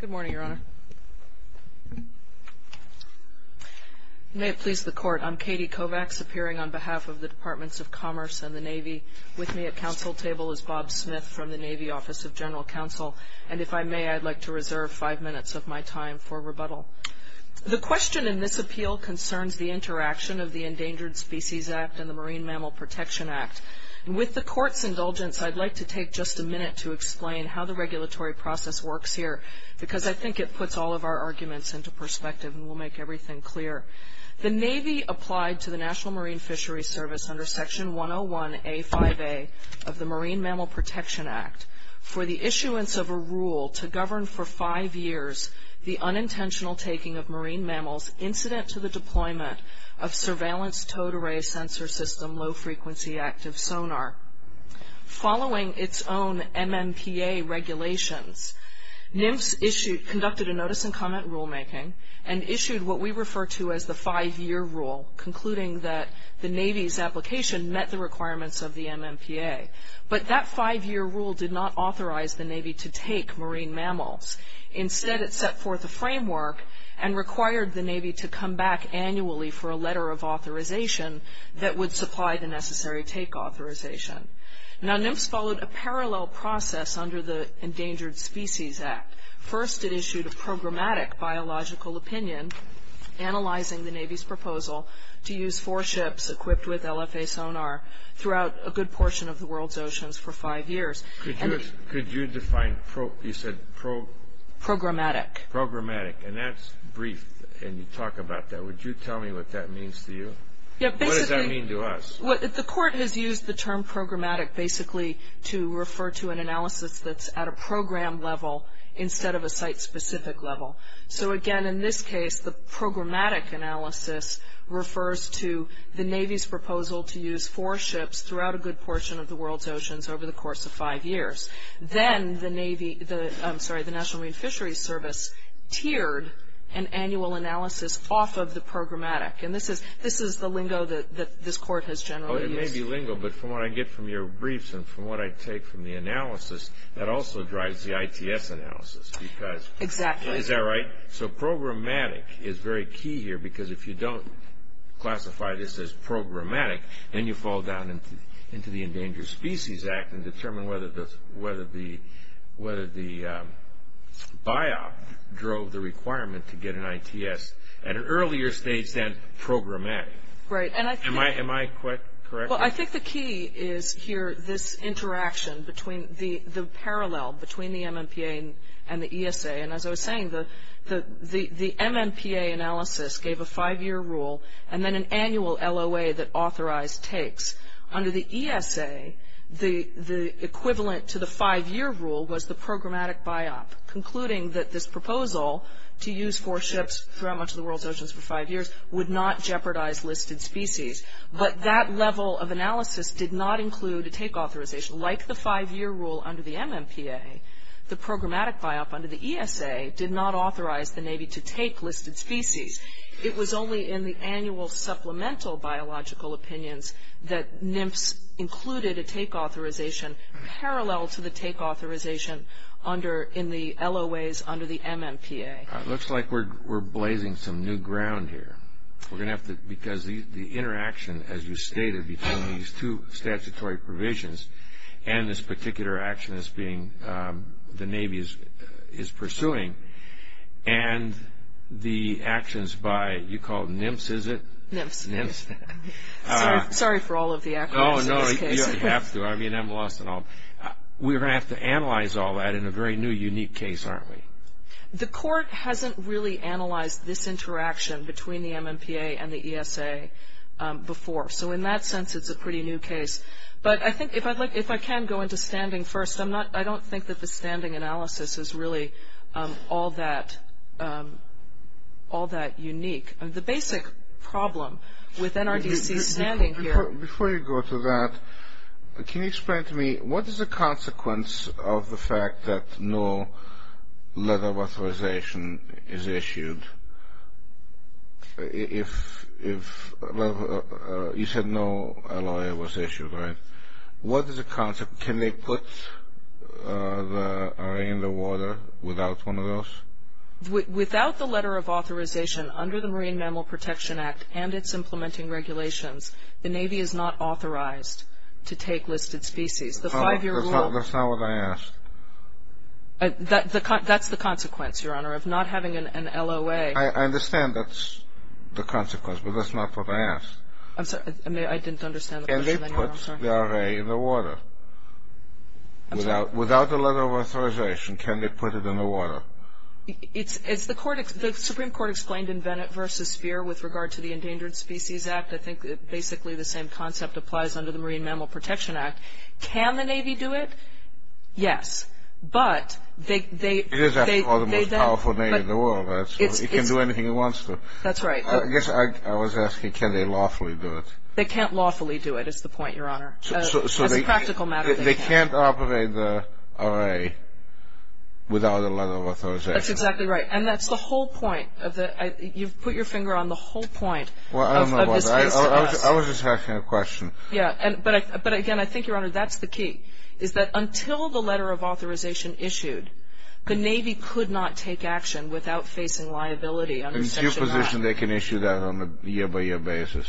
Good morning, Your Honor. May it please the Court, I'm Katie Kovacs, appearing on behalf of the Departments of Commerce and the Navy. With me at council table is Bob Smith from the Navy Office of General Counsel. And if I may, I'd like to reserve five minutes of my time for rebuttal. The question in this appeal concerns the interaction of the Endangered Species Act and the Marine Mammal Protection Act. And with the Court's indulgence, I'd like to take just a minute to explain how the regulatory process works here, because I think it puts all of our arguments into perspective and will make everything clear. The Navy applied to the National Marine Fisheries Service under Section 101A5A of the Marine Mammal Protection Act for the issuance of a rule to govern for five years the unintentional taking of marine mammals incident to the deployment of surveillance towed array sensor system low-frequency active sonar. Following its own MMPA regulations, NIMS conducted a notice and comment rulemaking and issued what we refer to as the five-year rule, concluding that the Navy's application met the requirements of the MMPA. But that five-year rule did not authorize the Navy to take marine mammals. Instead, it set forth a framework and required the Navy to come back annually for a letter of authorization that would supply the necessary take authorization. Now, NIMS followed a parallel process under the Endangered Species Act. First, it issued a programmatic biological opinion, analyzing the Navy's proposal to use four ships equipped with LFA sonar throughout a good portion of the world's oceans for five years. Could you define, you said, programmatic. Programmatic. And that's brief, and you talk about that. Would you tell me what that means to you? What does that mean to us? The court has used the term programmatic basically to refer to an analysis that's at a program level instead of a site-specific level. So again, in this case, the programmatic analysis refers to the Navy's proposal to use four ships throughout a good portion of the world's oceans for five years. Then the Navy, I'm sorry, the National Marine Fisheries Service tiered an annual analysis off of the programmatic. And this is the lingo that this court has generally used. Oh, it may be lingo, but from what I get from your briefs and from what I take from the analysis, that also drives the ITS analysis, because is that right? Exactly. So programmatic is very key here, because if you don't classify this as programmatic, then you fall down into the Endangered Species Act and determine whether the BIOP drove the requirement to get an ITS at an earlier stage than programmatic. Am I correct? Well, I think the key is here this interaction between the parallel between the MNPA and the ESA. And as I was saying, the MNPA analysis gave a five-year rule, and then an annual LOA that authorized takes. Under the ESA, the equivalent to the five-year rule was the programmatic BIOP, concluding that this proposal to use four ships throughout much of the world's oceans for five years would not jeopardize listed species. But that level of analysis did not include a take authorization. Like the five-year rule under the MNPA, the programmatic BIOP under the ESA did not authorize the Navy to take listed species. It was only in the annual supplemental biological opinions that NMFS included a take authorization parallel to the take authorization in the LOAs under the MNPA. Looks like we're blazing some new ground here, because the interaction, as you stated, between these two statutory provisions and this particular action the Navy is pursuing, and the actions by, you call it NMFS, is it? NMFS. NMFS. Sorry for all of the acronyms in this case. No, no, you don't have to. I mean, I'm lost in all. We're going to have to analyze all that in a very new, unique case, aren't we? The court hasn't really analyzed this interaction between the MNPA and the ESA before. So in that sense, it's a pretty new case. But I think if I can go into standing first, I don't think that the standing analysis is really all that unique. The basic problem with NRDC's standing here... Before you go to that, can you explain to me, what is the consequence of the fact that no letter of authorization is issued if, well, you said no LOA was issued, right? What is the consequence? Can they put the array in the water without one of those? Without the letter of authorization under the Marine Mammal Protection Act and its implementing regulations, the Navy is not authorized to take listed species. The five-year rule... That's not what I asked. That's the consequence, Your Honor, of not having an LOA. I understand that's the consequence, but that's not what I asked. I'm sorry. I didn't understand the question anymore, I'm sorry. Can they put the array in the water? Without the letter of authorization, can they put it in the water? As the Supreme Court explained in Bennett v. Speer with regard to the Endangered Species Act, I think basically the same concept applies under the Marine Mammal Protection Act. Can the Navy do it? Yes. But they... It is, after all, the most powerful Navy in the world. It can do anything it wants to. That's right. I guess I was asking, can they lawfully do it? They can't lawfully do it, is the point, Your Honor. As a practical matter, they can't. They can't operate the array without a letter of authorization. That's exactly right. And that's the whole point. You've put your finger on the whole Well, I don't know about that. I was just asking a question. Yeah. But again, I think, Your Honor, that's the key, is that until the letter of authorization issued, the Navy could not take action without facing liability under Section 9. And in that position, they can issue that on a year-by-year basis.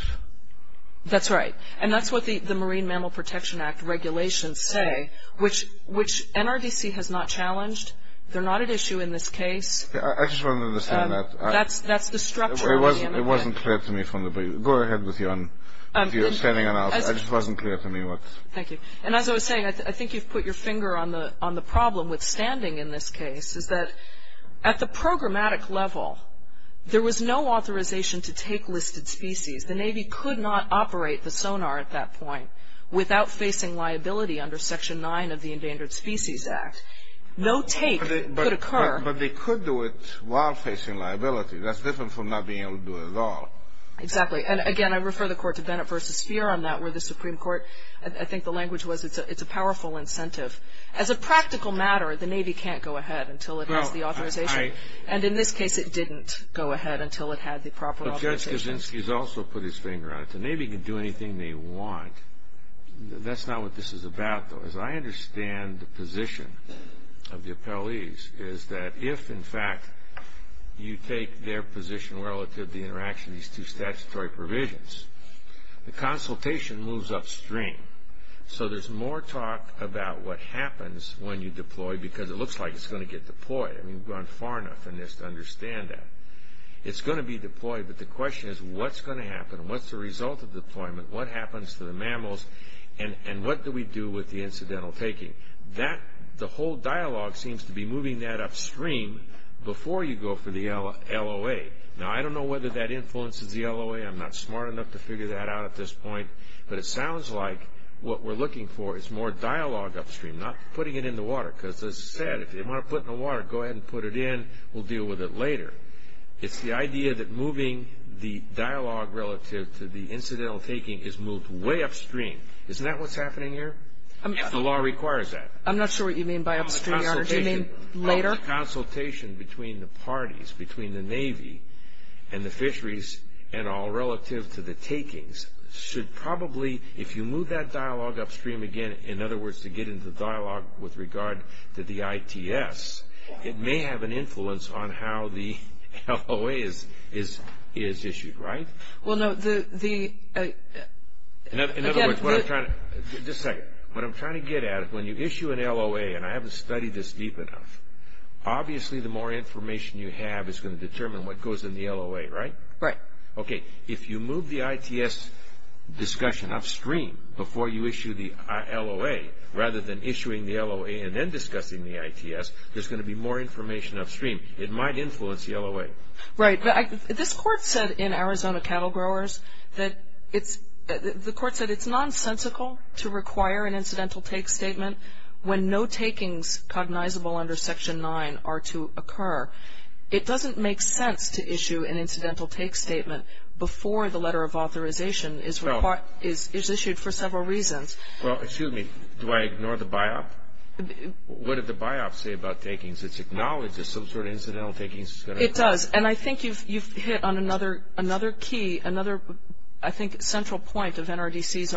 That's right. And that's what the Marine Mammal Protection Act regulations say, which NRDC has not challenged. They're not at issue in this case. I just want to understand that. That's the structure of the amendment. It wasn't clear to me from the beginning. Go ahead with your standing analysis. It just wasn't clear to me what... Thank you. And as I was saying, I think you've put your finger on the problem with standing in this case, is that at the programmatic level, there was no authorization to take listed species. The Navy could not operate the sonar at that point without facing liability under Section 9 of the Endangered Species Act. No take could occur. But they could do it while facing liability. That's different from not being able to do it at all. Exactly. And again, I refer the Court to Bennett v. Feer on that, where the Supreme Court, I think the language was it's a powerful incentive. As a practical matter, the Navy can't go ahead until it has the authorization. And in this case, it didn't go ahead until it had the proper authorization. But Judge Kaczynski has also put his finger on it. The Navy can do anything they want. That's not what this is about, though. As I understand the position of the appellees, is that if, in fact, you take their position relative to the interaction of these two statutory provisions, the consultation moves upstream. So there's more talk about what happens when you deploy because it looks like it's going to get deployed. I mean, we've gone far enough in this to understand that. It's going to be deployed, but the question is what's going to happen? What's the result of deployment? What happens to the mammals? And what do we do with the incidental taking? The whole dialogue seems to be moving that upstream before you go for the LOA. Now, I am not smart enough to figure that out at this point, but it sounds like what we're looking for is more dialogue upstream, not putting it in the water. Because as I said, if they want to put it in the water, go ahead and put it in. We'll deal with it later. It's the idea that moving the dialogue relative to the incidental taking is moved way upstream. Isn't that what's happening here? The law requires that. I'm not sure what you mean by upstream, Your Honor. Do you mean later? The consultation between the parties, between the Navy and the fisheries in all relative to the takings should probably, if you move that dialogue upstream again, in other words, to get into the dialogue with regard to the ITS, it may have an influence on how the LOA is issued, right? Well, no. In other words, what I'm trying to... Just a second. What I'm trying to get at, when you issue an LOA, and I haven't studied this deep enough, obviously the more information you have is going to determine what goes in the LOA, right? Right. Okay. If you move the ITS discussion upstream before you issue the LOA, rather than issuing the LOA and then discussing the ITS, there's going to be more information upstream. It might influence the LOA. Right. This Court said in Arizona Cattle Growers that it's... The Court said it's nonsensical to require an incidental take statement when no takings cognizable under Section 9 are to occur. It doesn't make sense to issue an incidental take statement before the letter of authorization is issued for several reasons. Well, excuse me. Do I ignore the biop? What did the biop say about takings? It acknowledges some sort of incidental takings that's going to occur. It does. And I think you've hit on another key, another, I think, central point of NRDC's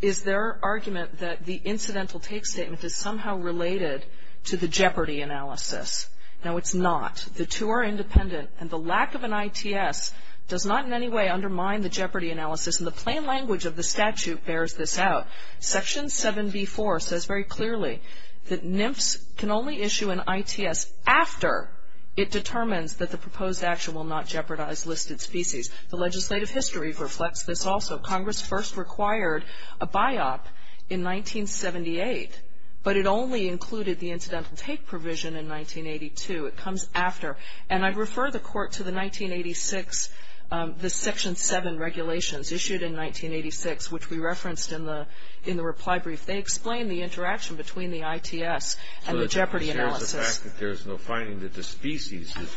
is their argument that the incidental take statement is somehow related to the jeopardy analysis. Now, it's not. The two are independent, and the lack of an ITS does not in any way undermine the jeopardy analysis, and the plain language of the statute bears this out. Section 7b.4 says very clearly that NMFS can only issue an ITS after it determines that the proposed action will not jeopardize listed species. The legislative history reflects this also. Congress first required a biop in 1978, but it only included the incidental take provision in 1982. It comes after. And I'd refer the Court to the 1986, the Section 7 regulations issued in 1986, which we referenced in the reply brief. They explain the interaction between the ITS and the jeopardy analysis. So it shares the fact that there's no finding that the species is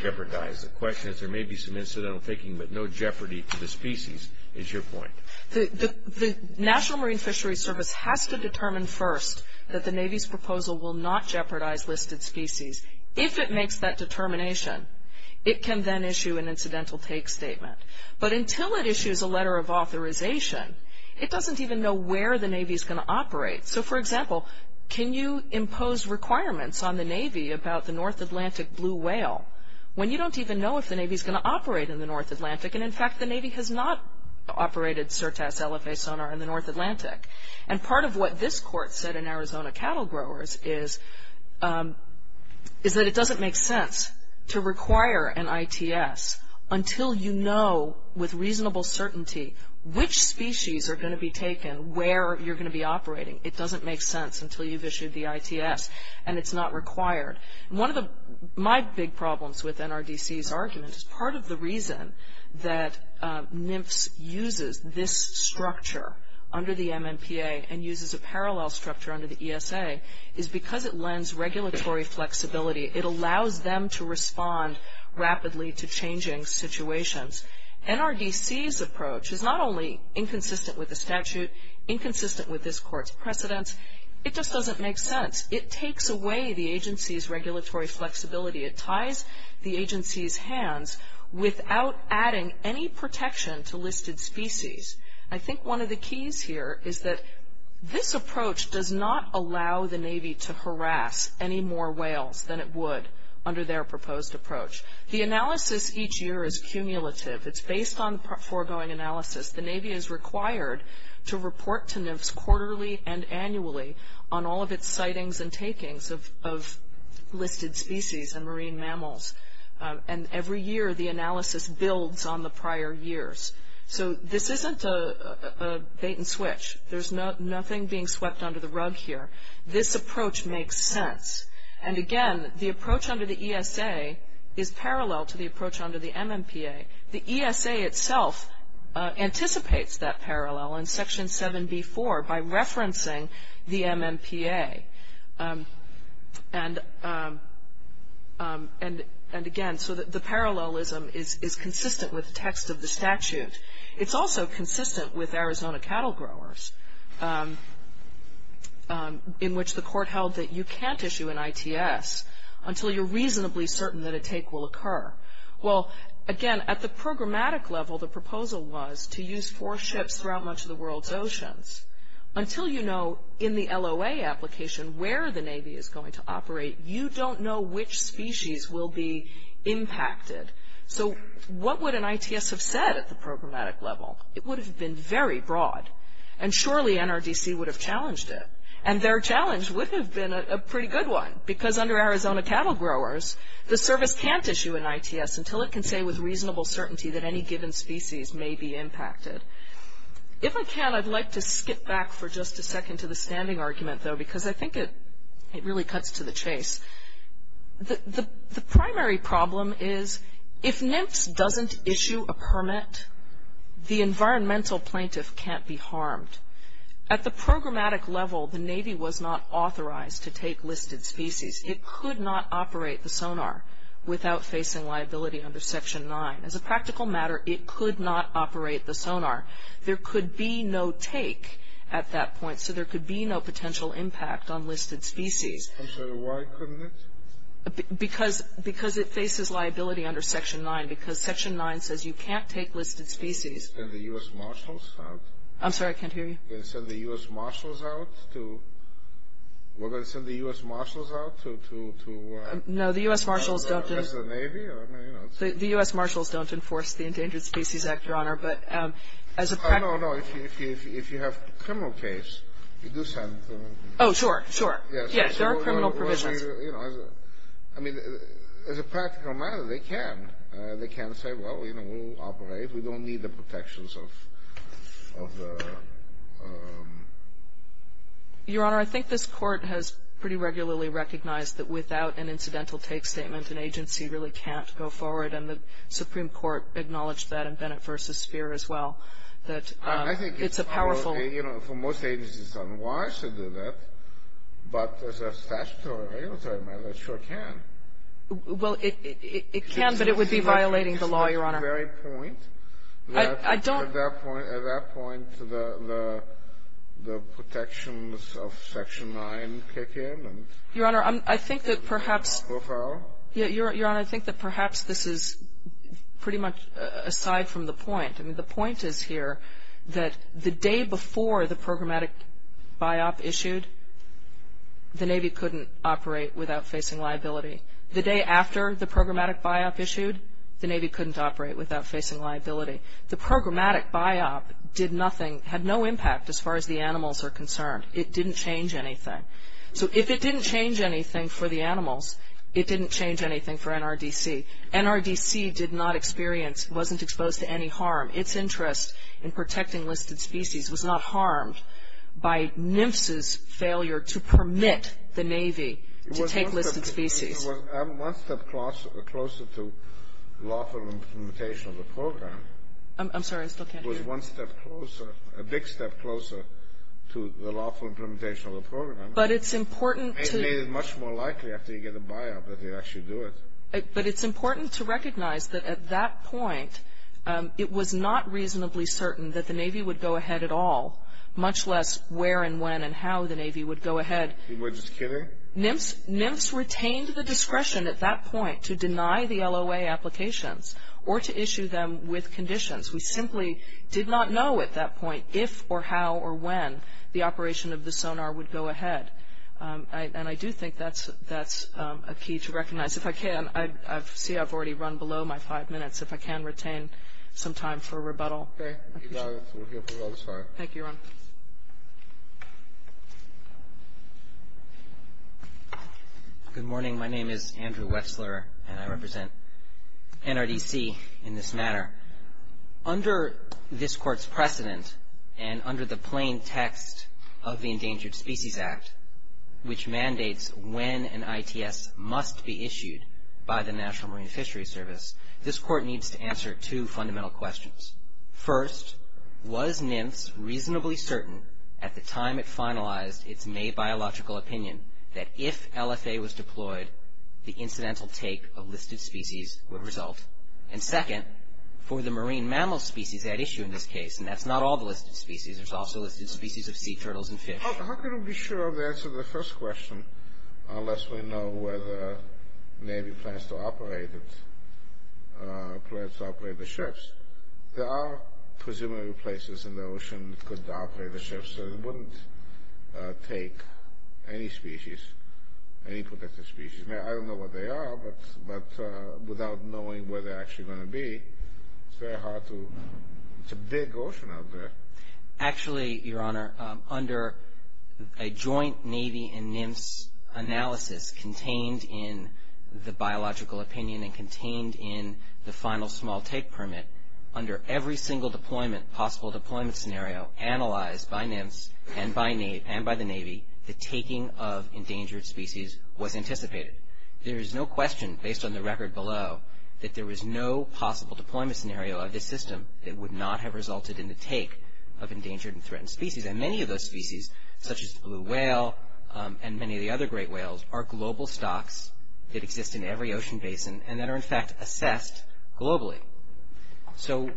jeopardized. The question is, there may be some incidental taking, but no jeopardy to the species, is your point. The National Marine Fisheries Service has to determine first that the Navy's proposal will not jeopardize listed species. If it makes that determination, it can then issue an incidental take statement. But until it issues a letter of authorization, it doesn't even know where the Navy's going to operate. So, for example, can you impose requirements on the Navy about the North Atlantic blue whale when you don't even know if the Navy's going to operate in the North Atlantic? And, in fact, the Navy has not operated Sirtaz Elephae sonar in the North Atlantic. And part of what this Court said in Arizona Cattle Growers is that it doesn't make sense to require an ITS until you know with reasonable certainty which species are going to be taken, where you're going to be operating. It doesn't make sense until you've issued the ITS, and it's not required. One of my big problems with NRDC's argument is part of the reason that NMFS uses this structure under the MMPA and uses a parallel structure under the ESA is because it lends regulatory flexibility. It allows them to respond rapidly to changing situations. NRDC's not only inconsistent with the statute, inconsistent with this Court's precedents, it just doesn't make sense. It takes away the agency's regulatory flexibility. It ties the agency's hands without adding any protection to listed species. I think one of the keys here is that this approach does not allow the Navy to harass any more whales than it would under their proposed approach. The analysis each year is cumulative. It's based on foregoing analysis. The Navy is required to report to NMFS quarterly and annually on all of its sightings and takings of listed species and marine mammals. And every year the analysis builds on the prior years. So this isn't a bait and switch. There's nothing being swept under the rug here. This approach makes sense. And again, the approach under the ESA is parallel to the approach under the MMPA. The ESA itself anticipates that parallel in Section 7b.4 by referencing the MMPA. And again, so the parallelism is consistent with the text of the statute. It's also consistent with Arizona cattle growers, in which the Court held that you can't issue an ITS until you're reasonably certain that a take will occur. Well, again, at the programmatic level the proposal was to use four ships throughout much of the world's oceans. Until you know in the LOA application where the Navy is going to operate, you don't know which species will be impacted. So what would an ITS have said at the programmatic level? It would have been very broad. And surely NRDC would have challenged it. And their challenge would have been a pretty good one. Because under Arizona cattle growers, the service can't issue an ITS until it can say with reasonable certainty that any given species may be impacted. If I can, I'd like to skip back for just a second to the standing argument, though, because I think it really cuts to the chase. The primary problem is if NMFS doesn't issue a permit, the environmental plaintiff can't be harmed. At the programmatic level, the Navy was not authorized to take listed species. It could not operate the sonar without facing liability under Section 9. As a practical matter, it could not operate the sonar. There could be no take at that point. So there could be no potential impact on listed species. I'm sorry, why couldn't it? Because it faces liability under Section 9. Because Section 9 says you can't take listed species. Can the U.S. Marshals help? I'm sorry, I can't hear you. Can you send the U.S. Marshals out to... We're going to send the U.S. Marshals out to... No, the U.S. Marshals don't... The Navy? The U.S. Marshals don't enforce the Endangered Species Act, Your Honor. But as a practical... No, no, no. If you have a criminal case, you do send... Oh, sure, sure. Yes, there are criminal provisions. I mean, as a practical matter, they can. They can say, well, you know, we'll operate. We don't need the protections of the... Your Honor, I think this Court has pretty regularly recognized that without an incidental take statement, an agency really can't go forward. And the Supreme Court acknowledged that in Bennett v. Speer as well, that it's a powerful... I think it's... You know, for most agencies, it's unwise to do that. But as a statutory matter, it sure can. Well, it can, but it would be violating the law, Your Honor. Is that the very point? I don't... At that point, the protections of Section 9 kick in? Your Honor, I think that perhaps... So far? Your Honor, I think that perhaps this is pretty much aside from the point. I mean, the point is here that the day before the programmatic BIOP issued, the Navy couldn't operate without facing liability. The day after the programmatic BIOP issued, the Navy couldn't operate without facing liability. The programmatic BIOP did nothing, had no impact as far as the animals are concerned. It didn't change anything. So if it didn't change anything for the animals, it didn't change anything for NRDC. NRDC did not experience, wasn't exposed to any harm. Its interest in protecting listed species was not harmed by NMFS's failure to permit the Navy to take listed species. It was one step closer to lawful implementation of the program. I'm sorry, I still can't hear. It was one step closer, a big step closer to the lawful implementation of the program. But it's important to... It is much more likely after you get the BIOP that they'd actually do it. But it's important to recognize that at that point, it was not reasonably certain that the Navy would go ahead at all, much less where and when and how the Navy would go ahead. You were just kidding? NMFS retained the discretion at that point to deny the LOA applications or to issue them with conditions. We simply did not know at that point if or how or when the operation of the sonar would go ahead. And I do think that's a key to recognize. If I can, I see I've already run below my five minutes. If I can retain some time for rebuttal. Okay. Thank you, Ron. Good morning. My name is Andrew Wetzler, and I represent NRDC in this manner. Under this court's precedent and under the plain text of the Endangered Species Act, which mandates when an ITS must be issued by the National Marine Fishery Service, this court needs to answer two fundamental questions. First, was NMFS reasonably certain at the time it finalized its May biological opinion that if LFA was deployed, the incidental take of listed species would result? And second, for the marine mammal species at issue in this case, and that's not all the listed species. There's also listed species of sea turtles and fish. How can we be sure of the answer to the first question unless we know whether Navy plans to operate it, plans to operate the ships? There are presumably places in the ocean that could operate the ships. It wouldn't take any species, any protected species. I don't know what they are, but without knowing where they're actually going to be, it's very hard to dig ocean out there. Actually, Your Honor, under a joint Navy and NMFS analysis contained in the biological opinion and contained in the final small take permit, under every single deployment, possible deployment scenario analyzed by NMFS and by the Navy, the taking of endangered species was anticipated. There is no question, based on the record below, that there is no possible deployment scenario of this system that would not have resulted in the take of endangered and threatened species. And many of those species, such as the blue whale and many of the other great whales, are global stocks that exist in every ocean basin and that are, in fact, assessed globally. So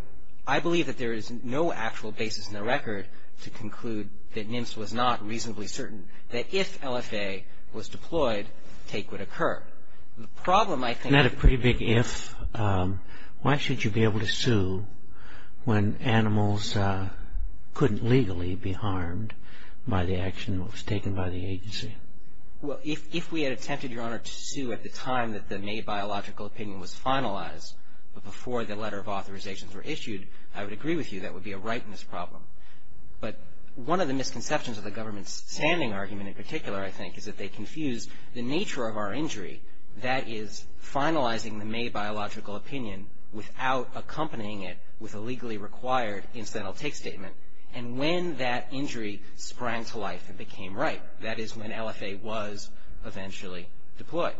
I believe that there is no actual basis in the record to conclude that NMFS was not reasonably certain that if LFA was deployed, take would occur. The problem, I think... Isn't that a pretty big if? Why should you be able to sue when animals couldn't legally be harmed by the action that was taken by the agency? Well, if we had attempted, Your Honor, to sue at the time that the May biological opinion was finalized, but before the letter of authorizations were issued, I would agree with you that would be a rightness problem. But one of the misconceptions of the government's standing argument in particular, I think, is that they confused the nature of our injury, that is, finalizing the May biological opinion without accompanying it with a legally required incidental take statement, and when that injury sprang to life, it became right. That is, when LFA was eventually deployed.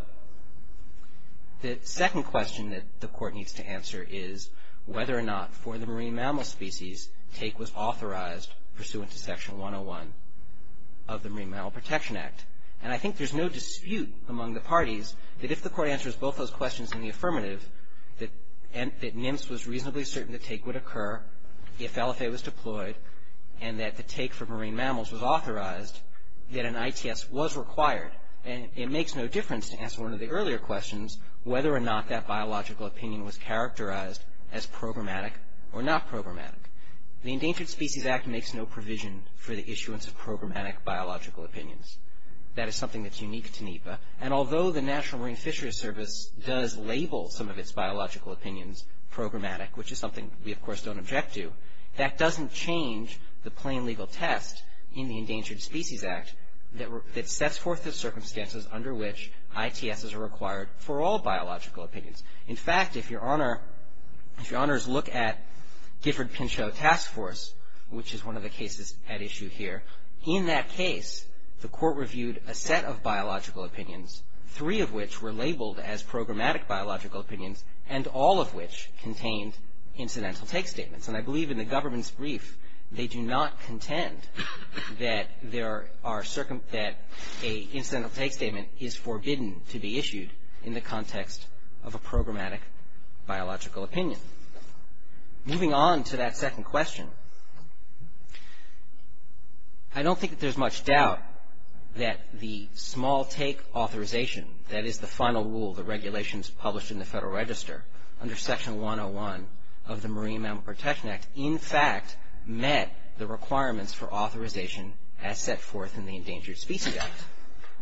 The second question that the court needs to answer is whether or not, for the marine mammal species, take was authorized pursuant to Section 101 of the Marine Mammal Protection Act. And I think there's no dispute among the parties that if the court answers both those questions in the affirmative, that NMFS was reasonably certain that take would occur if LFA was deployed, and that the take for marine mammals was authorized, that an ITS was required. And it makes no difference to answer one of the earlier questions whether or not that biological opinion was characterized as programmatic or not programmatic. The Endangered Species Act makes no provision for the issuance of programmatic biological opinions. That is something that's unique to NEPA. And although the National Marine Fisheries Service does label some of its biological opinions programmatic, which is something we, of course, don't object to, that doesn't change the plain legal test in the Endangered Species Act that sets forth the circumstances under which ITSs are required for all biological opinions. In fact, if your honors look at Gifford-Pinchot Task Force, which is one of the cases at issue here, in that case, the court reviewed a set of biological opinions, three of which were labeled as programmatic biological opinions, and all of which contained incidental take statements. And I believe in the government's brief, they do not contend that a incidental take statement is forbidden to be issued in the context of a programmatic biological opinion. Moving on to that second question, I don't think that there's much doubt that the small take authorization, that is the final rule, the regulations published in the Federal Register, under Section 101 of the Marine Mammal Protection Act, in fact, met the requirements for authorization as set forth in the Endangered Species Act.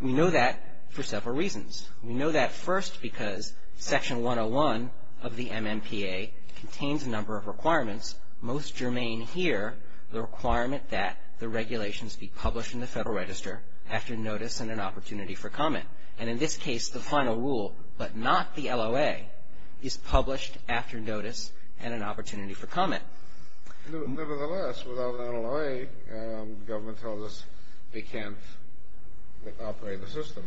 We know that for several reasons. We know that first because Section 101 of the MMPA contains a number of requirements. Most germane here, the requirement that the regulations be published in the Federal Register after notice and an opportunity for comment. And in this case, the final rule, but not the LOA, is published after notice and an opportunity for comment. Nevertheless, without an LOA, the government tells us they can't operate the system.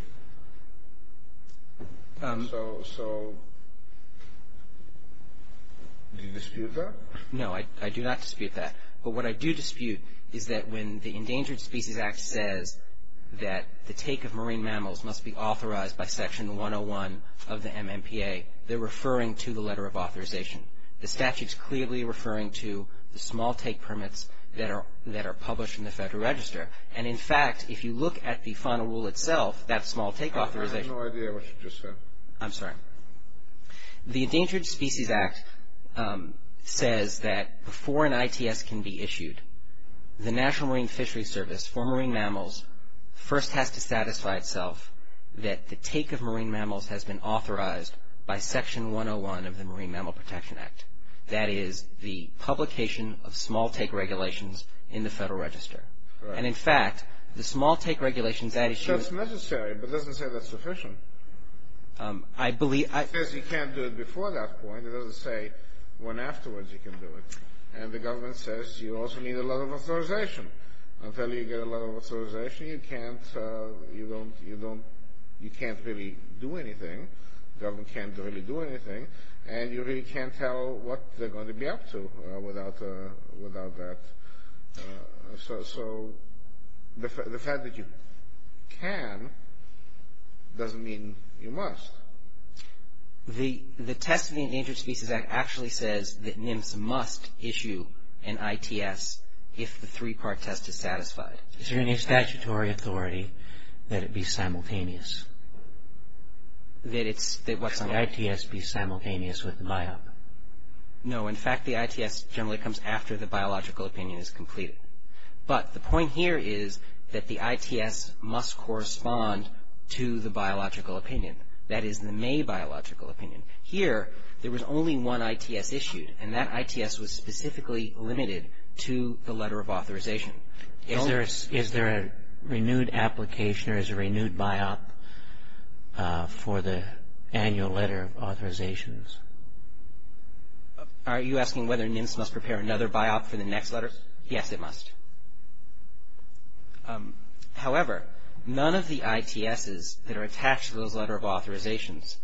Do you dispute that? No, I do not dispute that. But what I do dispute is that when the Endangered Species Act says that the take of marine mammals must be authorized by Section 101 of the MMPA, they're referring to the letter of authorization. The statute's clearly referring to the small take permits that are published in the Federal Register. And in fact, if you look at the final rule itself, that small take authorization... I have no idea what you just said. I'm sorry. The Endangered Species Act says that before an ITS can be issued, the National Marine Fishery Service for marine mammals first has to satisfy itself that the take of marine mammals has been authorized by Section 101 of the Marine Mammal Protection Act. That is the publication of small take regulations in the Federal Register. And in fact, the small take regulations that issue... That's necessary, but it doesn't say that's sufficient. I believe... It says you can't do it before that point. It doesn't say when afterwards you can do it. And the government says you also need a letter of authorization. Until you get a letter of authorization, you can't really do anything. The government can't really do anything. And you really can't tell what they're going to be up to without that. So the fact that you can doesn't mean you must. The test of the Endangered Species Act actually says that NIMS must issue an ITS if the three-part test is satisfied. Is there any statutory authority that it be simultaneous? That it's... Should the ITS be simultaneous with the BIOP? No. In fact, the ITS generally comes after the biological opinion is completed. But the point here is that the ITS must correspond to the biological opinion. That is, the May biological opinion. Here, there was only one ITS issued, and that ITS was specifically limited to the letter of authorization. Is there a renewed application, or is there a renewed BIOP? For the annual letter of authorizations. Are you asking whether NIMS must prepare another BIOP for the next letter? Yes, it must. However, none of the ITSs that are attached to those letter of authorizations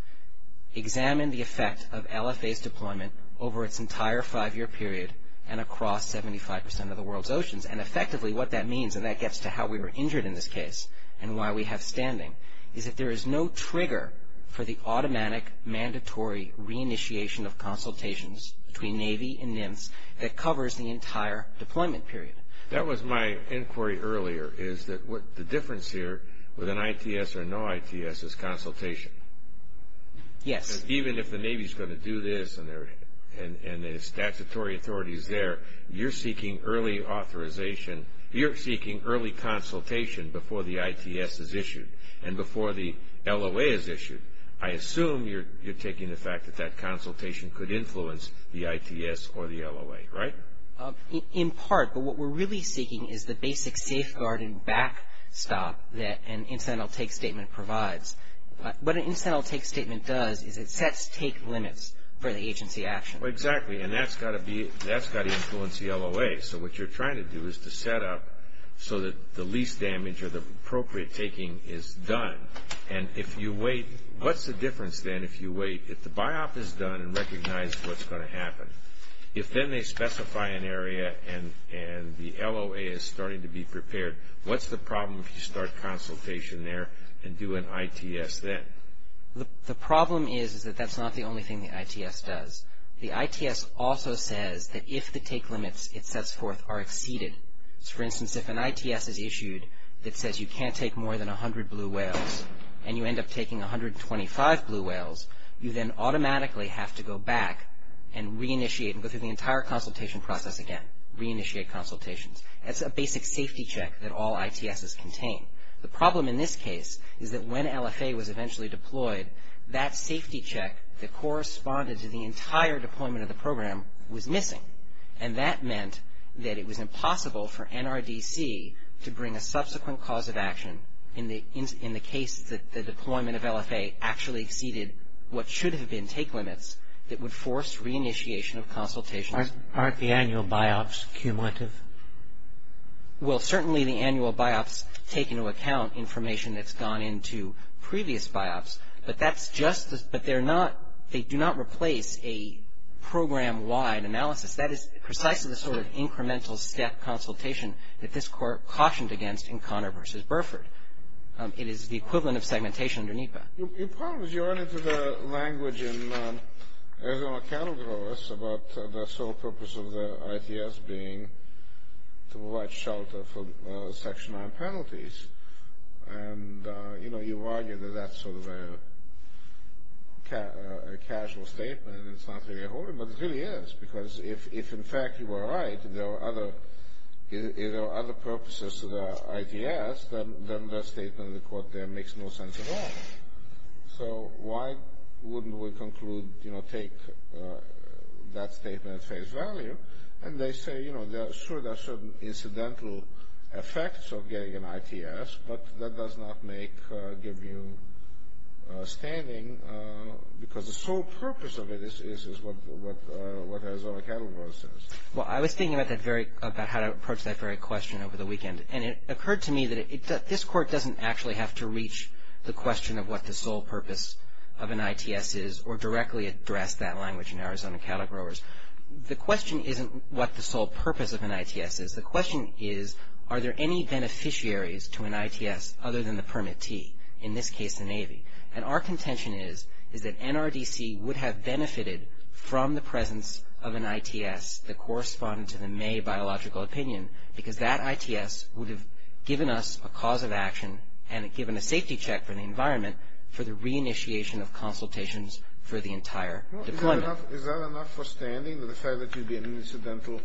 examine the effect of LFA's deployment over its entire five-year period and across 75% of the world's oceans. And effectively, what that means, and that gets to how we were injured in this case and why we have standing, is that there is no trigger for the automatic, mandatory re-initiation of consultations between Navy and NIMS that covers the entire deployment period. That was my inquiry earlier, is that the difference here with an ITS or no ITS is consultation. Yes. Even if the Navy is going to do this and the statutory authority is there, you're seeking early authorization, you're seeking early consultation before the ITS is issued and before the LOA is issued. I assume you're taking the fact that that consultation could influence the ITS or the LOA, right? In part, but what we're really seeking is the basic safeguard and backstop that an incidental take statement provides. What an incidental take statement does is it sets take limits for the agency action. Exactly, and that's got to influence the LOA. So what you're trying to do is to set up so that the least damage or the appropriate taking is done. And if you wait, what's the difference then if you wait, if the BIOP is done and recognize what's going to happen? If then they specify an area and the LOA is starting to be prepared, what's the problem if you start consultation there and do an ITS then? The problem is, is that that's not the only thing the ITS does. The ITS also says that if the take limits it sets forth are exceeded. For instance, if an ITS is issued that says you can't take more than 100 blue whales and you end up taking 125 blue whales, you then automatically have to go back and re-initiate and go through the entire consultation process again, re-initiate consultations. That's a basic safety check that all ITSs contain. The problem in this case is that when LFA was eventually deployed, that safety check that corresponded to the entire deployment of the program was missing. And that meant that it was impossible for NRDC to bring a subsequent cause of action in the case that the deployment of LFA actually exceeded what should have been take limits that would force re-initiation of consultations. Aren't the annual BIOPs cumulative? Well, certainly the annual BIOPs take into account information that's gone into previous BIOPs, but that's just, but they're not, they do not replace a program-wide analysis. That is precisely the sort of incremental step consultation that this Court cautioned against in Conner v. Burford. It is the equivalent of segmentation under NEPA. Your point is you run into the language in Arizona Cattle Growers about the sole purpose of the ITS being to provide shelter for Section 9 penalties. And, you know, you argue that that's sort of a casual statement and it's not really a whole lot, but it really is because if, in fact, you are right and there are other, if there are other purposes to the ITS, then that statement in the Court there makes no sense at all. So, why wouldn't we conclude, you know, take that statement at face value and they say, you know, sure there are certain incidental effects of getting an ITS, but that does not make, give you standing because the sole purpose of it is what Arizona Cattle Growers says. Well, I was thinking about that very, about how to approach that very question over the weekend and it occurred to me that this Court doesn't actually have to reach the question of what the sole purpose of an ITS is or directly address that language in Arizona Cattle Growers. The question isn't what the sole purpose of an ITS is. The question is are there any beneficiaries to an ITS other than the permittee? In this case, the Navy. And our contention is is that NRDC would have benefited from the presence of an ITS that corresponded to the May biological opinion because that ITS would have given us a cause of action and given a safety check for the environment for the reinitiation of consultations for the entire deployment. Is that enough for standing to say that you'd be an incidental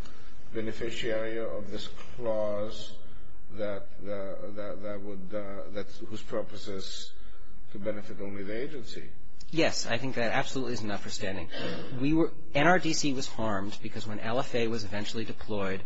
beneficiary of this clause that would, whose purpose is to benefit only the agency? Yes, I think that absolutely is enough for standing. NRDC was harmed because when LFA was eventually deployed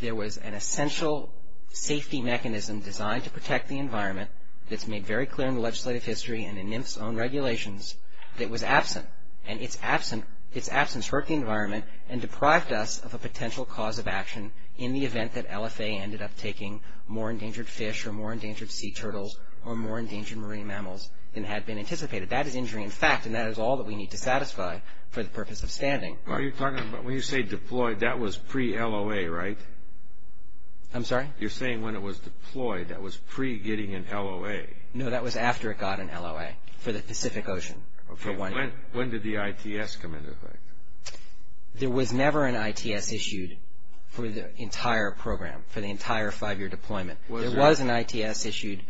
there was an essential safety mechanism designed to protect the environment that's made very clear in the legislative history and in NIMF's own regulations that was absent and its absence hurt the environment and deprived us of a potential cause of action in the event that LFA ended up taking more endangered fish or more endangered sea turtles or more endangered marine mammals than had been anticipated. That is injury in fact and that is all that we need to satisfy for the purpose of standing. Are you talking about when you say deployed that was pre-LOA right? I'm sorry? You're saying when it was deployed that was pre-getting in LOA? No, that was after it got in LOA for the Pacific Ocean for one year. When did the ITS come into effect? There was never an ITS issued for the entire program, for the entire five year deployment. There was an ITS issued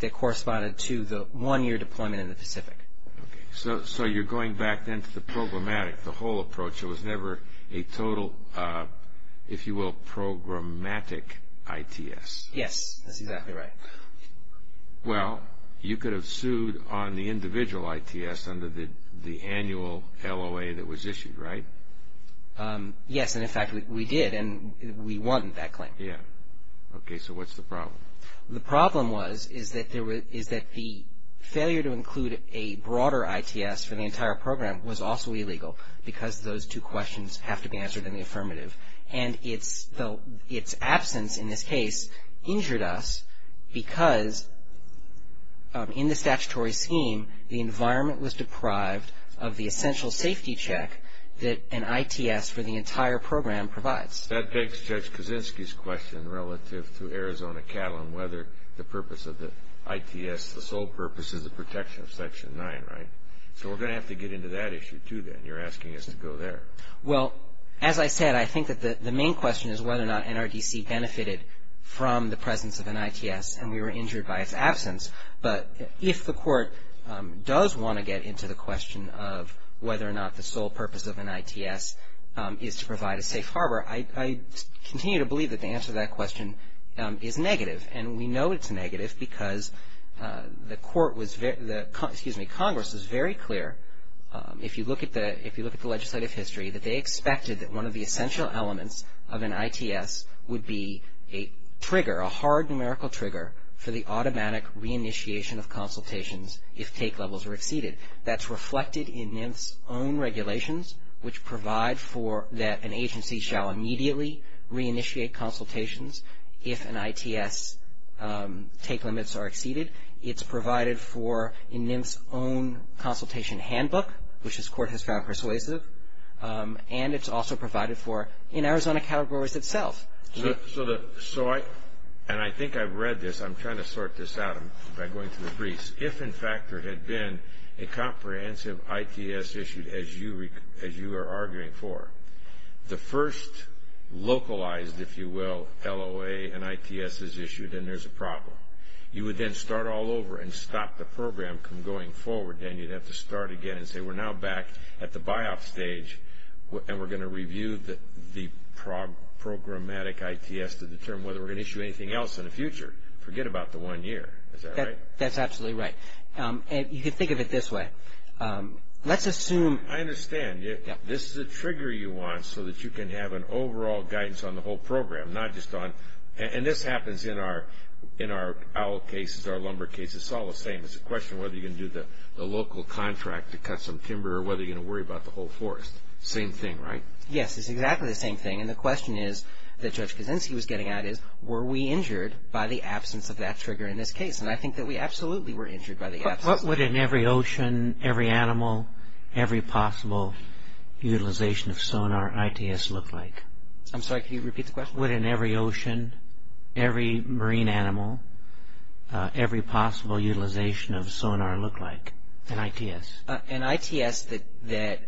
that corresponded to the one year deployment in the Pacific. So you're going back then to the programmatic the whole approach there was never a total if you will programmatic ITS. Yes, that's exactly right. Well, you could have sued on the individual ITS under the annual LOA that was issued right? Yes, and in fact we did and we won that claim. Yes, okay, so what's the problem? The problem was is that the failure to include a broader ITS for the entire program was also illegal because those two questions have to be answered in the affirmative and its absence in this entire program provides. That begs Judge Kaczynski's question relative to Arizona cattle and whether the purpose of the ITS the sole purpose is the protection of Section 9, right? So we're going to have to get into that issue too then. You're asking us to go there. Well as I said I think that the main question is whether or not NRDC benefited from the presence of an ITS and we were injured by its absence but if the court does want to get into the question of whether or not the sole purpose of an ITS is to say that they expected that one of the essential elements of an ITS would be a trigger a hard numerical trigger for the automatic reinitiation of consultations if take levels are exceeded. That's reflected in NIMS own regulations which provide for that an agency shall immediately reinitiate consultations if an ITS take limits are exceeded. It's provided for in NIMS own consultation handbook which this court has found persuasive and it's also provided for in Arizona categories itself. So I and I think I've read this I'm trying to sort this out by going to the briefs if in fact there had been a comprehensive ITS issued as you are arguing for the first localized if you will LOA and ITS is issued and there's a problem you would then start all over and stop the program from going forward then you'd have to start again and say we're now back at the buy-off stage and we're going to review the programmatic ITS to determine whether we're going to issue anything else in the future. Forget about the one year. Is that right? That's absolutely right. And you can think of it this way. Let's assume... I understand. This is a trigger you want so that you can have an overall guidance on the whole program not just on... and this happens in our owl cases our lumber cases it's all the same. It's a question whether you're going to do the local contract to cut some timber or whether you're going to worry about the whole forest. Same thing, right? Yes, it's exactly the same thing. And the question is that Judge would the localization of sonar look like in ITS? In ITS that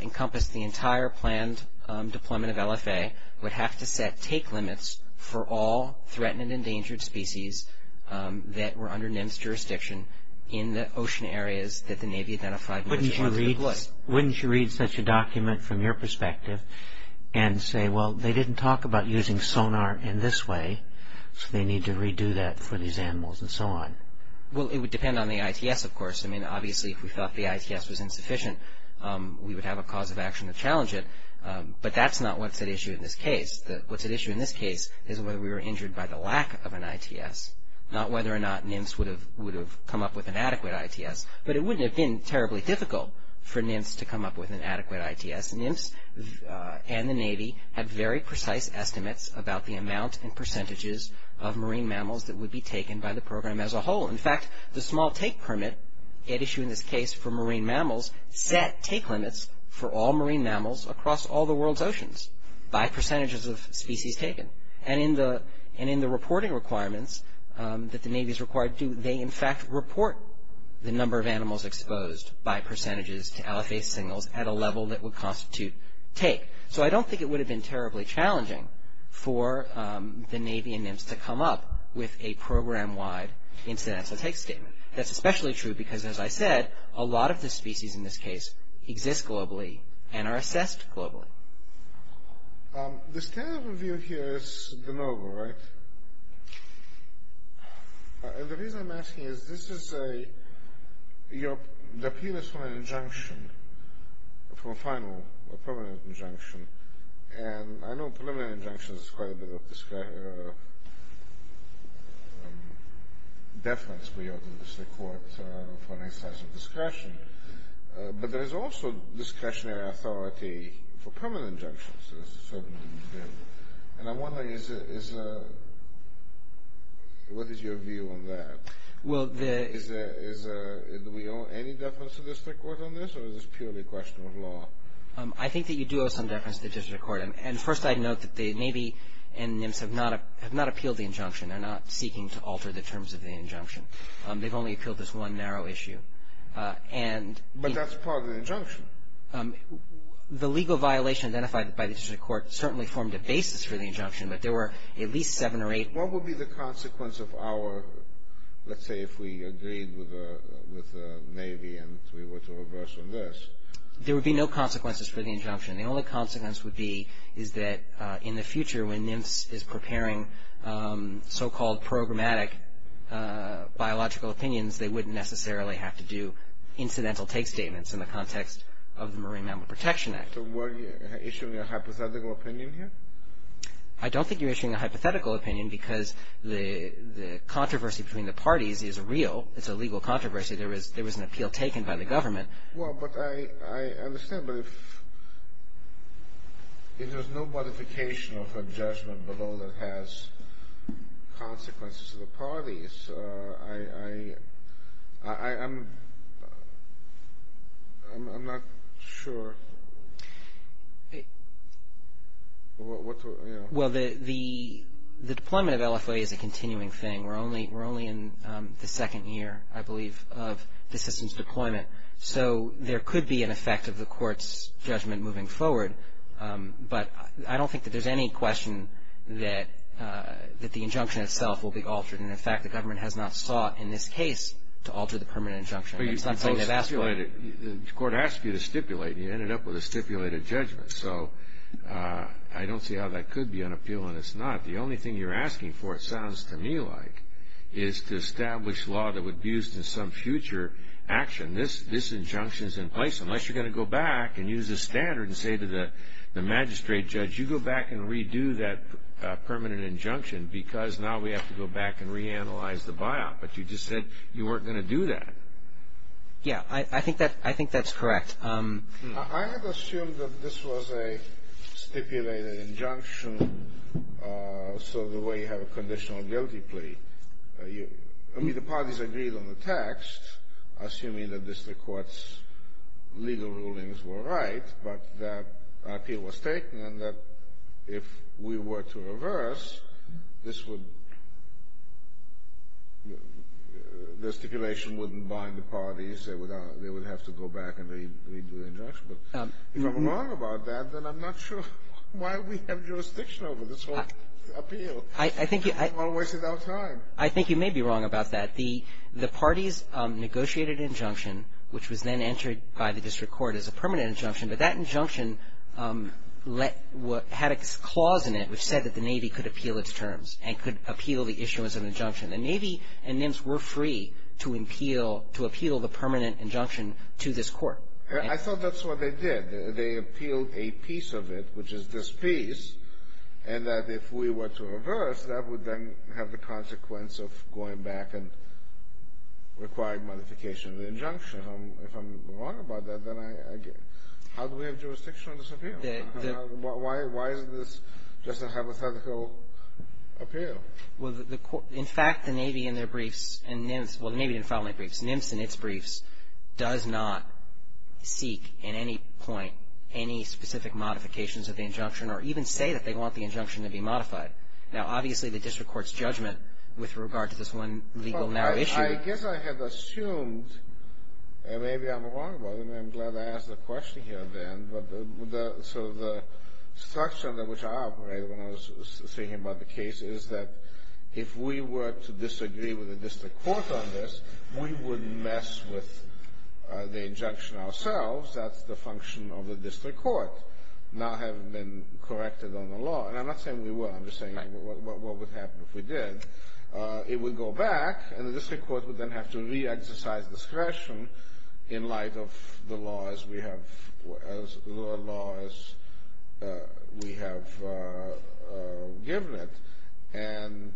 encompassed the entire planned deployment of LFA would have to set take limits for all threatened and endangered species that were under NIMS jurisdiction in the ocean areas that the Navy identified. Wouldn't you read such a document from your perspective and say well they didn't talk about using sonar in this way so they need to redo that for these species under NIMS jurisdiction in ITS? Not whether or not NIMS would have come up with an adequate ITS, but it wouldn't have been terribly difficult for NIMS to come up with an adequate ITS. NIMS and the Navy have very precise estimates about the amount and percentages of marine mammals that would be taken by the program as a whole. In fact, the small take permit at issue in this case for marine mammals set take limits for all marine mammals exposed by percentages to aliphase signals at a level that would constitute take. So I don't think it would have been terribly challenging for the Navy and NIMS to come up with a program-wide incidental take statement. That's especially true because as I said, a lot of the species in this case exist globally and are assessed globally. The standard review here is the NOVA, right? And the reason I'm asking is this is the appeal is from an injunction, from a final, a permanent injunction, and I know preliminary injunctions are quite a bit of deference we owe the district court for an excise of discretion, but there is also discretionary authority for permanent injunctions. And I wonder, what is your view on that? Do we owe any deference to the district court on this or is this purely a question of law? I think that you do owe some deference to the district court. And first I'd note that the Navy and NIMS have not appealed the injunction. They're not seeking to alter the terms of the injunction. They've only appealed this one narrow section the injunction. There would be no consequences for the injunction. The only consequence would be is that in the future when NIMS is preparing so-called programmatic biological opinions, they wouldn't necessarily have to do incidental take statements in the context of the Marine Mammal Protection Act. So were you issuing a hypothetical opinion here? I don't think you're issuing a hypothetical opinion because the controversy between the parties is real. It's a legal controversy. There was an appeal taken by the government. Well, but I understand that if there's no modification of a judgment below that has consequences to the parties, I'm not sure. Well, deployment of LFA is a continuing thing. We're only in the second year, I believe, of the system's deployment. So there could be an effect of the court's judgment moving forward. But I don't think that there's any question that the injunction itself will be altered. And in fact, the government has not sought in this case to alter the permanent injunction. The court asked you to stipulate and you ended up with a stipulated judgment. don't see how that could be unappealing. It's not. The only thing you're asking for, it sounds to me like, is to establish law that would be used in some future action. This injunction is in place unless you're going to have a guilty plea. I had assumed that this was a stipulated injunction so the way you have a conditional guilty plea. I mean, the parties agreed on the text assuming that the court's legal rulings were right but that appeal was taken and that if we were to reverse, this would the stipulation wouldn't bind the parties. They would have to go back and redo the injunction. If I'm wrong about that, then I'm not sure why we have jurisdiction over this whole appeal. I think you may be wrong about that. The parties negotiated an injunction which was then entered by the district court as a permanent injunction but that injunction had a clause in it which said that the Navy could appeal its terms and could appeal the issue as an injunction. The Navy and NIMS were free to appeal the permanent injunction to this court. I thought that's what they did. They appealed a piece of it which is this piece and that if we were to reverse, that would then have the consequence of going back and requiring modification of the injunction. If I'm wrong about that, then I get it. How do we have jurisdiction over this appeal? Why is this just a hypothetical appeal? In fact, the Navy and their briefs and NIMS does not seek in any point any specific modifications of the injunction or even say that they want the injunction to be modified. Now, obviously, the district court's judgment with regard to this one legal matter issue is that if we were to disagree with the district court on this, we would mess with the injunction ourselves. That's the function of the district court, not having been corrected on the law. And I'm not saying we were. I'm just saying what would happen if we did. It would go back and the district court would then have to re-exercise discretion in light of the laws we have given it. And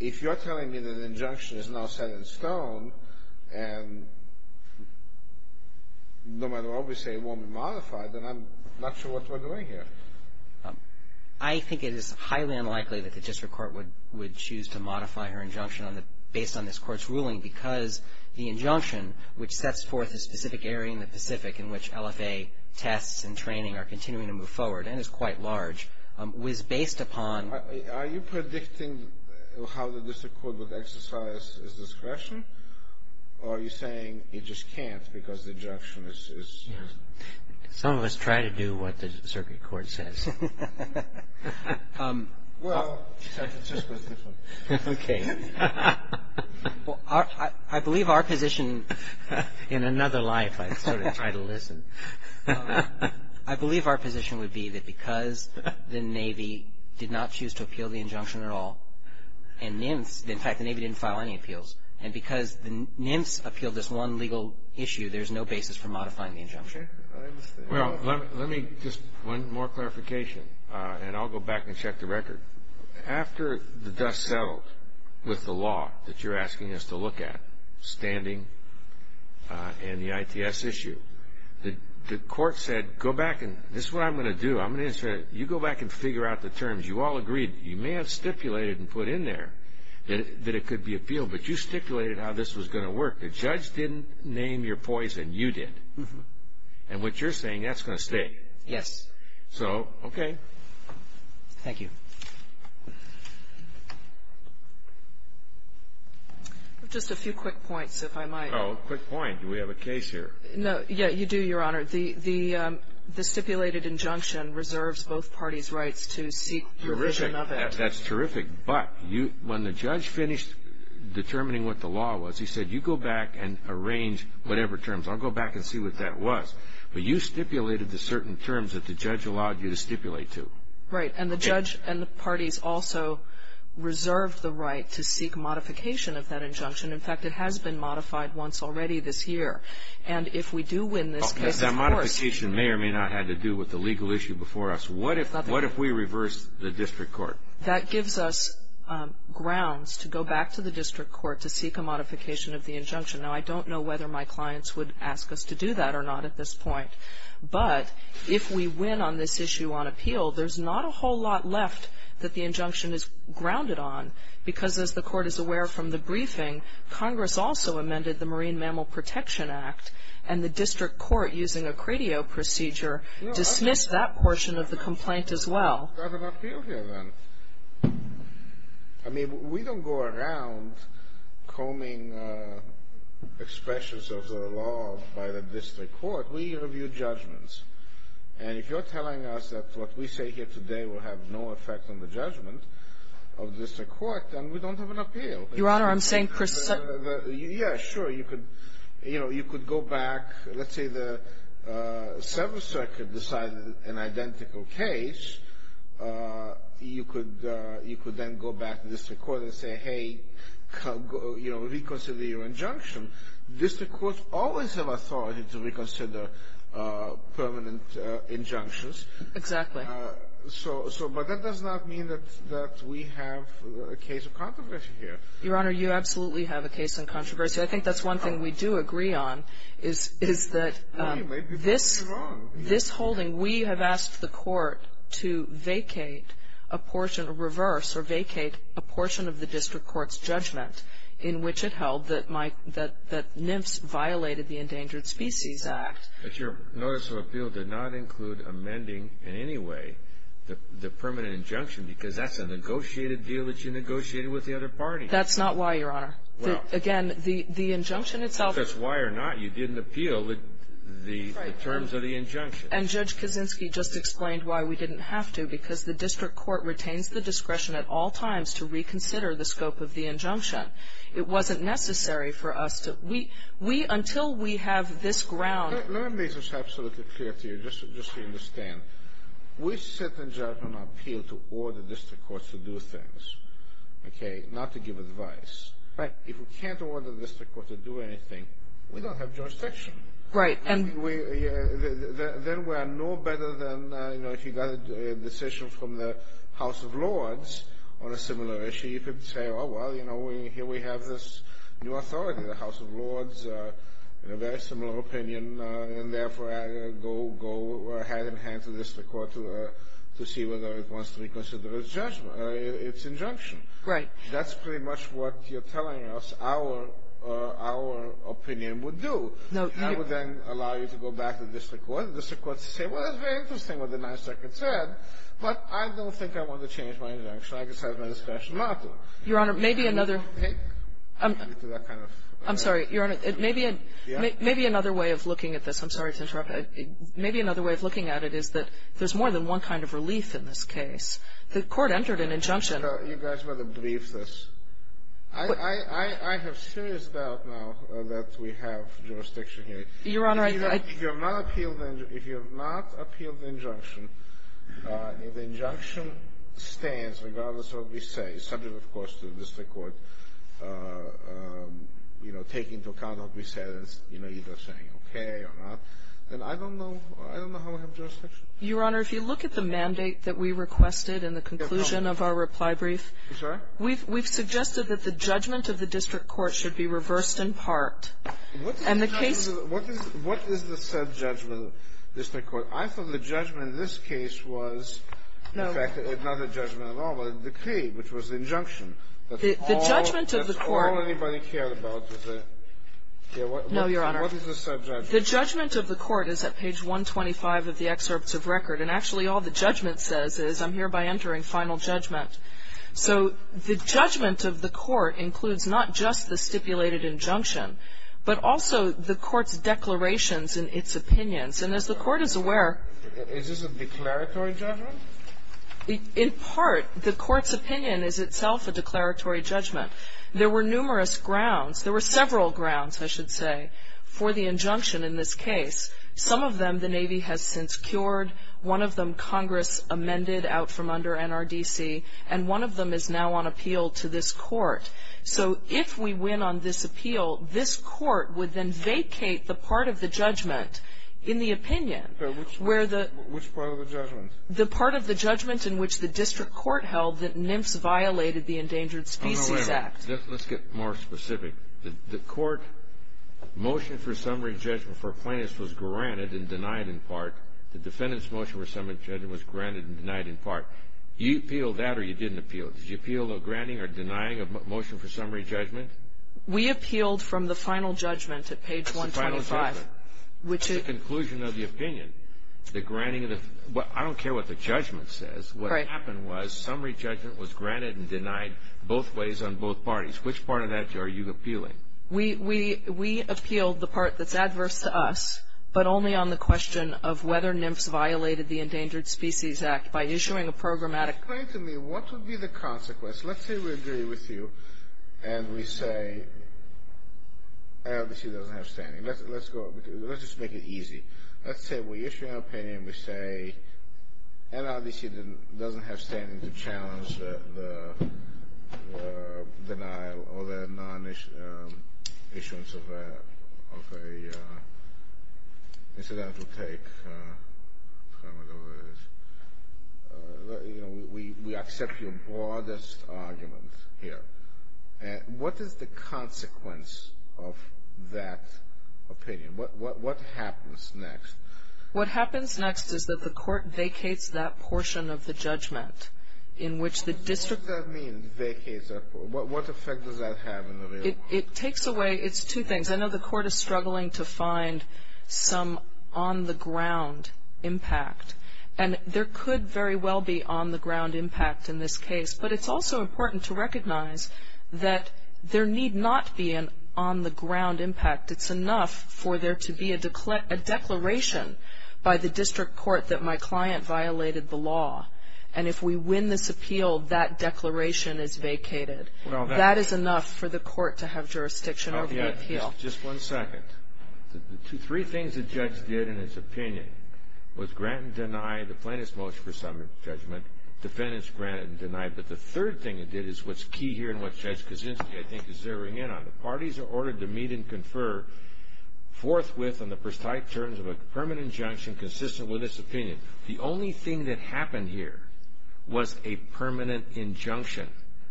if you're telling me that the injunction is now set in stone, and no matter what we say it won't be modified, then I'm not sure what we're doing here. I think it is highly unlikely that the district court would choose to modify her injunction based on this court's ruling, because the injunction, which sets forth a specific area in the Pacific in which LFA tests and training are continuing to move forward and is quite large, was based upon... Are you predicting how the district court would exercise its discretion, or are you saying it just can't because the injunction is... Some of us try to do what the circuit court says. Well, San Francisco is different. Okay. I believe our position in another life, I sort of try to listen, I believe our position would be that because the Navy did not choose to appeal the injunction at all, and NIMFS, in fact, the Navy didn't file any appeals, and because the NIMFS appealed this one legal issue, there's no basis for modifying the injunction. Well, let me just... One more clarification, and I'll go back and check the record. After the dust settled with the law that you're asking us to look at, standing and the ITS issue, the court said, go back and... This is what I'm going to do. You go back and figure out the terms. You all agreed, you may have stipulated and put in there that it could be appealed, but you stipulated how this was going to work. The judge didn't name your poison. You did. And what you're saying, that's going to stay. Yes. So, okay. Thank you. Just a few quick points, if I might. Oh, a quick point. Do we have a case here? No. Yeah, you do, Your Honor. The stipulated injunction reserves both parties' rights to seek revision of it. That's terrific. But when the judge finished determining what the law was, he said, you go back and arrange whatever terms. I'll go back and see what that was. But you stipulated the certain terms that the judge allowed you to stipulate to. Right. And the judge and the parties also reserved the right to seek modification of that injunction. In fact, it has been modified once already this year. And if we do win this case, of course. That modification may or may not have to do with the legal But there's not a whole lot left that the injunction is grounded on. Because as the court is aware from the briefing, Congress also amended the Marine Mammal Protection Act and the district court using a credio procedure dismissed that portion of the complaint as well. I mean, we don't go around combing over the expressions of the law by the district court. We review judgments. And if you're telling us that what we say here today will have no effect on the judgment of the district court, then we don't have an appeal. Yeah, sure, you could go back. If you have an identical case, you could then go back to the district court and say, hey, reconsider your District courts always have authority to reconsider permanent injunctions. Exactly. But that does not mean that we have a case of controversy here. Your Honor, you absolutely have a case of controversy. I think that's one thing we do agree on is that this holding, we have asked the court to vacate a portion, reverse, or vacate a portion of the district court's judgment in which it held that NIFS violated the Endangered Species Act. But your notice of appeal did not include amending in any way the permanent injunction because that's a negotiated deal that you negotiated with the other party. That's not why, Your Honor. Again, the injunction itself. Whether that's why or not, you didn't appeal the terms of the injunction. And Judge Kaczynski just explained why we didn't have to because the district court retains the discretion at all times to reconsider the scope of the injunction. It wasn't necessary for us to, until we have this ground. Let me make this absolutely clear to you just to understand. We sit and judge on our appeal to order the district courts to do things, not to give advice. If we can't order the district court to do anything, we don't have jurisdiction. Then we are no better than if you got a decision from the House of Lords on a similar issue. You could say, oh, well, here we have this new authority in the House of Lords, a very similar opinion, and therefore I go ahead and hand it to the district court to see whether it wants to reconsider its injunction. That's pretty much what you're telling us our opinion would do. I would then allow you to go back to the district court and the district court to say, well, it's very interesting what the 9th Circuit said, but I don't think I want to change my injunction. I just have my discretion to go back to the district and see whether it wants to reconsider its injunction. I have serious doubt now that we have jurisdiction here. If you have not appealed the injunction, the injunction stands regardless of what we say, subject, of course, to the district court, you know, taking into account what we said, you know, either saying okay or not, then I don't know how we have jurisdiction. Kagan Your Honor, if you look at the mandate that we requested in the conclusion of our reply brief, we've suggested that the judgment of the district court should be reversed in part. And the case said judgment of the district court? I thought the judgment in this case was in fact not a judgment at all, but a decree, which was the injunction. That's all anybody cared about was the judgment. The judgment of the court is at page 125 of the excerpts of record. And actually all the judgment says is I'm here by entering final judgment. So the judgment of the court includes not just the stipulated judgment, injunction. And the opinion is itself a declaratory judgment. There were numerous grounds, there were several grounds, I should say, for the injunction in this case. Some of them the Navy has since cured, one of them Congress amended out from under NRDC, and one of them is now on appeal to this court. So if we win on this appeal, this court would then vacate the part of the judgment in the opinion. Which part of the judgment? The part of the judgment in which the district court held that NMFS violated the Endangered Species Act. Let's get more specific. The court motion for summary judgment for plaintiffs was granted and denied in part. The defendant's motion for summary judgment was granted and denied in part. Do you appeal that or you didn't appeal it? Did you appeal the granting or denying of motion for summary judgment? We appealed from the final judgment at page 125. I don't care what the judgment says. What happened was summary judgment was granted and denied both ways on both parties. Which part of that are you appealing? We appealed the part that's adverse to us, but only on the question of whether NMFS violated the Endangered Species Act by issuing a programmatic claim. Explain to me what would be the consequence? Let's say we agree with you and we say NRDC doesn't have standing. Let's just make it easy. Let's say we issue an opinion and we say NRDC doesn't have standing to challenge the denial or the non-issuance of an incidental take. I don't know what it is. We accept your broadest arguments here. What is the consequence of that opinion? What happens next? What happens next is that the court vacates that portion of the judgment in which the district... What does that mean, vacates that portion? What effect does that have? It takes away... It takes away a lot of things. I know the court is struggling to find some on-the-ground impact. And there could very well be on-the-ground impact in this case, but it's also important to recognize that there need not be an on-the-ground impact. It's enough for there to be a declaration by the district court that my client violated the law, and if we win this appeal, that declaration is vacated. That is enough for the court to have jurisdiction over the appeal. second. The three things the judge did in his opinion was grant and deny the plaintiff's motion for summary judgment, defendants grant and deny, but the third thing it did is what's key here and what Judge Kaczynski is zeroing in on. The parties are ordered to meet and confer forthwith on the precise terms of a permanent injunction consistent with its opinion. The only thing that happened here was a permanent injunction.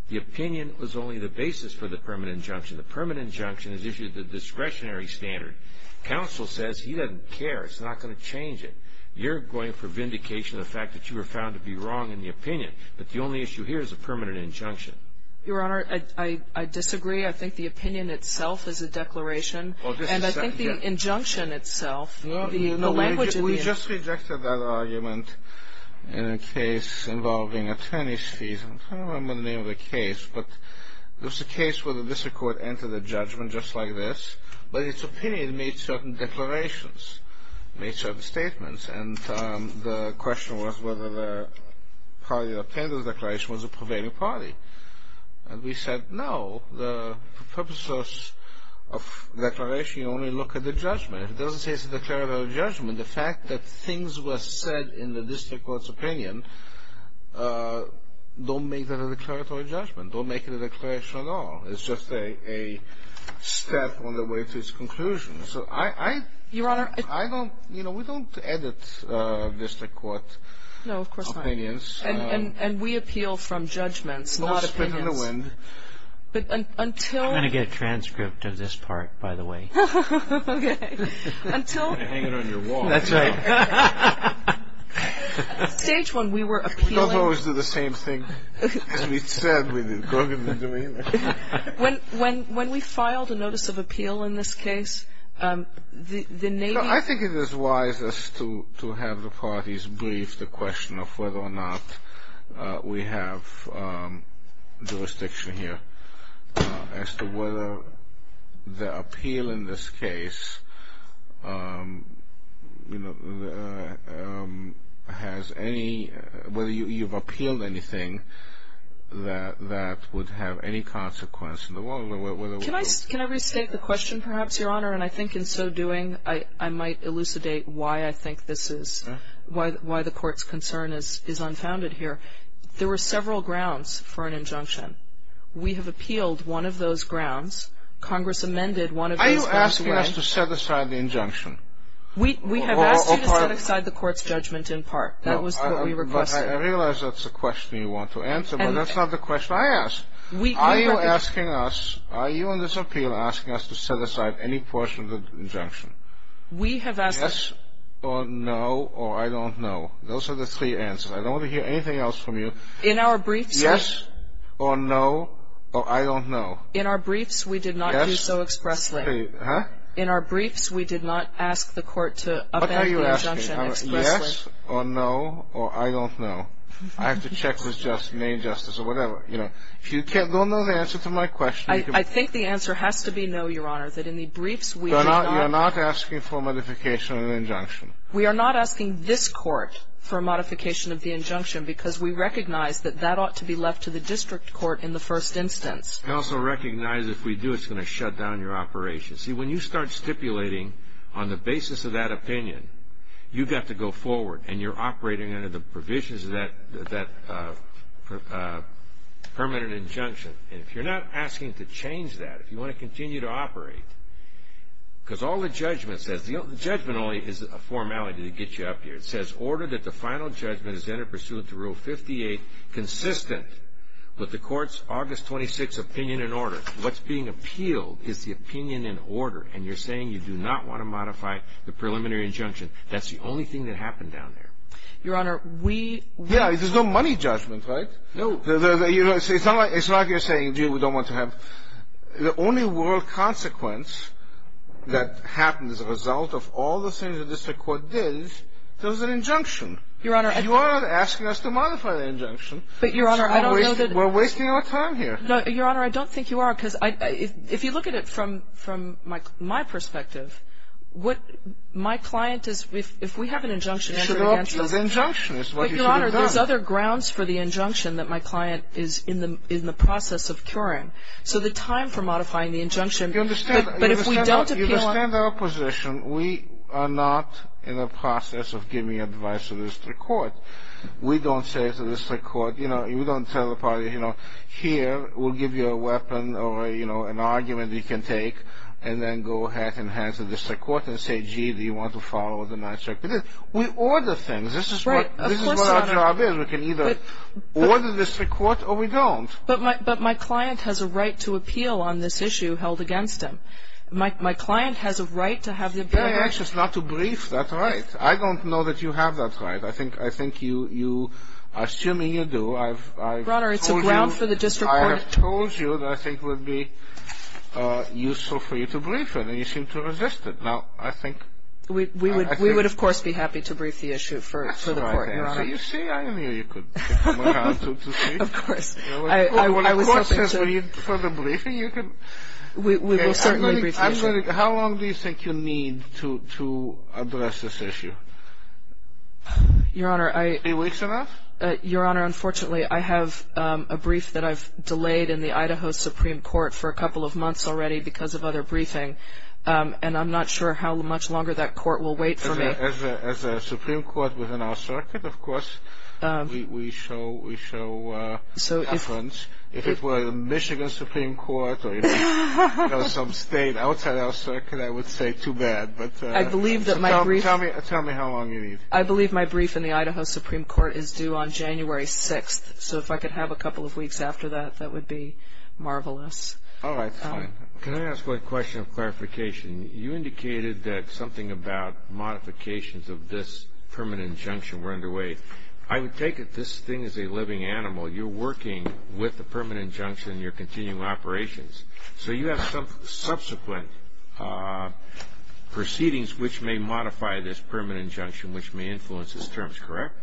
The opinion was only the basis for the permanent injunction. The permanent injunction has issued the discretionary standard. Counsel says he doesn't care. It's not going to change it. You're going for vindication of the fact that you were found to be wrong in the opinion, but the only issue here is a permanent injunction. Your opinion only thing that matters. There was a case where the district court entered a judgment just like this, but its opinion made certain declarations, made certain statements, and the question was whether the party that obtained the declaration was a prevailing party. And we said, no, the purpose of declaration, you only look at the judgment. It doesn't say it's a declaratory judgment. The fact that things were said in the district court's opinion, don't make that a declaratory judgment. Don't make it a declaration at all. It's just a step on the way to its conclusion. So I don't, you know, we don't edit district court opinions. And we appeal from judgments, not opinions. I'm going to get a transcript of this part, by the way. I'm going to hang it on your wall. That's right. Stage one, we were talking about this. When we filed a notice of appeal in this case, the Navy... I think it is wise to have the parties brief the question of whether or not we have jurisdiction here as to whether the appeal in this case, you know, has any, whether you've appealed anything that would have any consequence in the world. Can I restate the question, perhaps, Your Honor? And I think in so doing, I might elucidate why I think this is, why the Court's concern is unfounded here. There were several grounds for an injunction. We have appealed one of those grounds. Congress amended one of those grounds. We have asked you to set aside the injunction. We have asked you to set aside the Court's judgment in part. That was what we requested. I realize that's a question you want to answer, but that's not the question I asked. Are you asking us, are you in this court, the injunction explicitly? In our briefs, we did not ask the Court to amend the injunction explicitly. What are you asking? Yes or no or I don't know. I have to check with Main Justice or whatever. If you don't know the answer to my question, you can check Main Justice. In our briefs, we are not asking for modification of the injunction. We are not asking this Court for modification of the injunction because we recognize that that ought to be left to the District Court in the first judgment. Because all the judgment says, the judgment only is a formality to get you up here, it says order that the final judgment is entered pursuant to Rule 58 consistent with the Court's August 26 opinion and order. What's being appealed is the opinion and order and you're saying you do not want to modify the preliminary injunction. That's the only thing that happened down there. Your Honor, we... Yeah, there's no money judgment, right? No. It's not like you're saying, we don't want to have... The only world consequence that happens as a result of all the things that the District Court did was an injunction. Your Honor... You are asking us to modify the injunction. But Your Honor, I don't know that... We're wasting our time here. No, Your Honor, I don't think you are, because if you look at it from my perspective, what my client is... If we have an injunction... The injunction is what you should have done. But Your Honor, there's other grounds for the injunction that my client is in the process of curing. So the time for modifying the injunction... You understand... But if we don't appeal... You understand our position. We are not in the process of giving advice to the District Court. We don't say to the District Court, you know, you don't tell the party, you know, here, we'll give you a weapon or an argument that you can take and then go ahead and hand it to the District Court and say, gee, do you want to follow the magic? We order things. This is what our job is. We can either order the District Court or we don't. But my client has a right to appeal on this issue held against him. My client has a right to have the ability... I'm anxious not to brief that right. I don't know that you have that right. I think you, assuming you do, I've told you... Your Honor, it's a ground for the District Court... I've told you that I think it would be appropriate brief that right. How long do you think you need to address this issue? Your Honor, I... Three weeks enough? Your Honor, unfortunately, I have a brief that I've delayed in the Idaho Supreme Court for a couple of months already because of other briefing. And I'm not sure how much longer that court will wait for me. As a Supreme Court within our circuit, of course, we show preference. If it were the Michigan Supreme Court or some state outside our circuit, I would say too bad. Tell me how long you need. I believe my brief in the Idaho Supreme Court is due on January 6th. So if I could have a couple of weeks after that, that would be marvelous. All right. Can I ask a question of clarification? You indicated that something about modifications of this permanent injunction were underway. I would take it this thing is a living animal. You're working with the permanent injunction and you're continuing operations. So you have some subsequent proceedings which may modify this permanent injunction which may influence its terms, correct?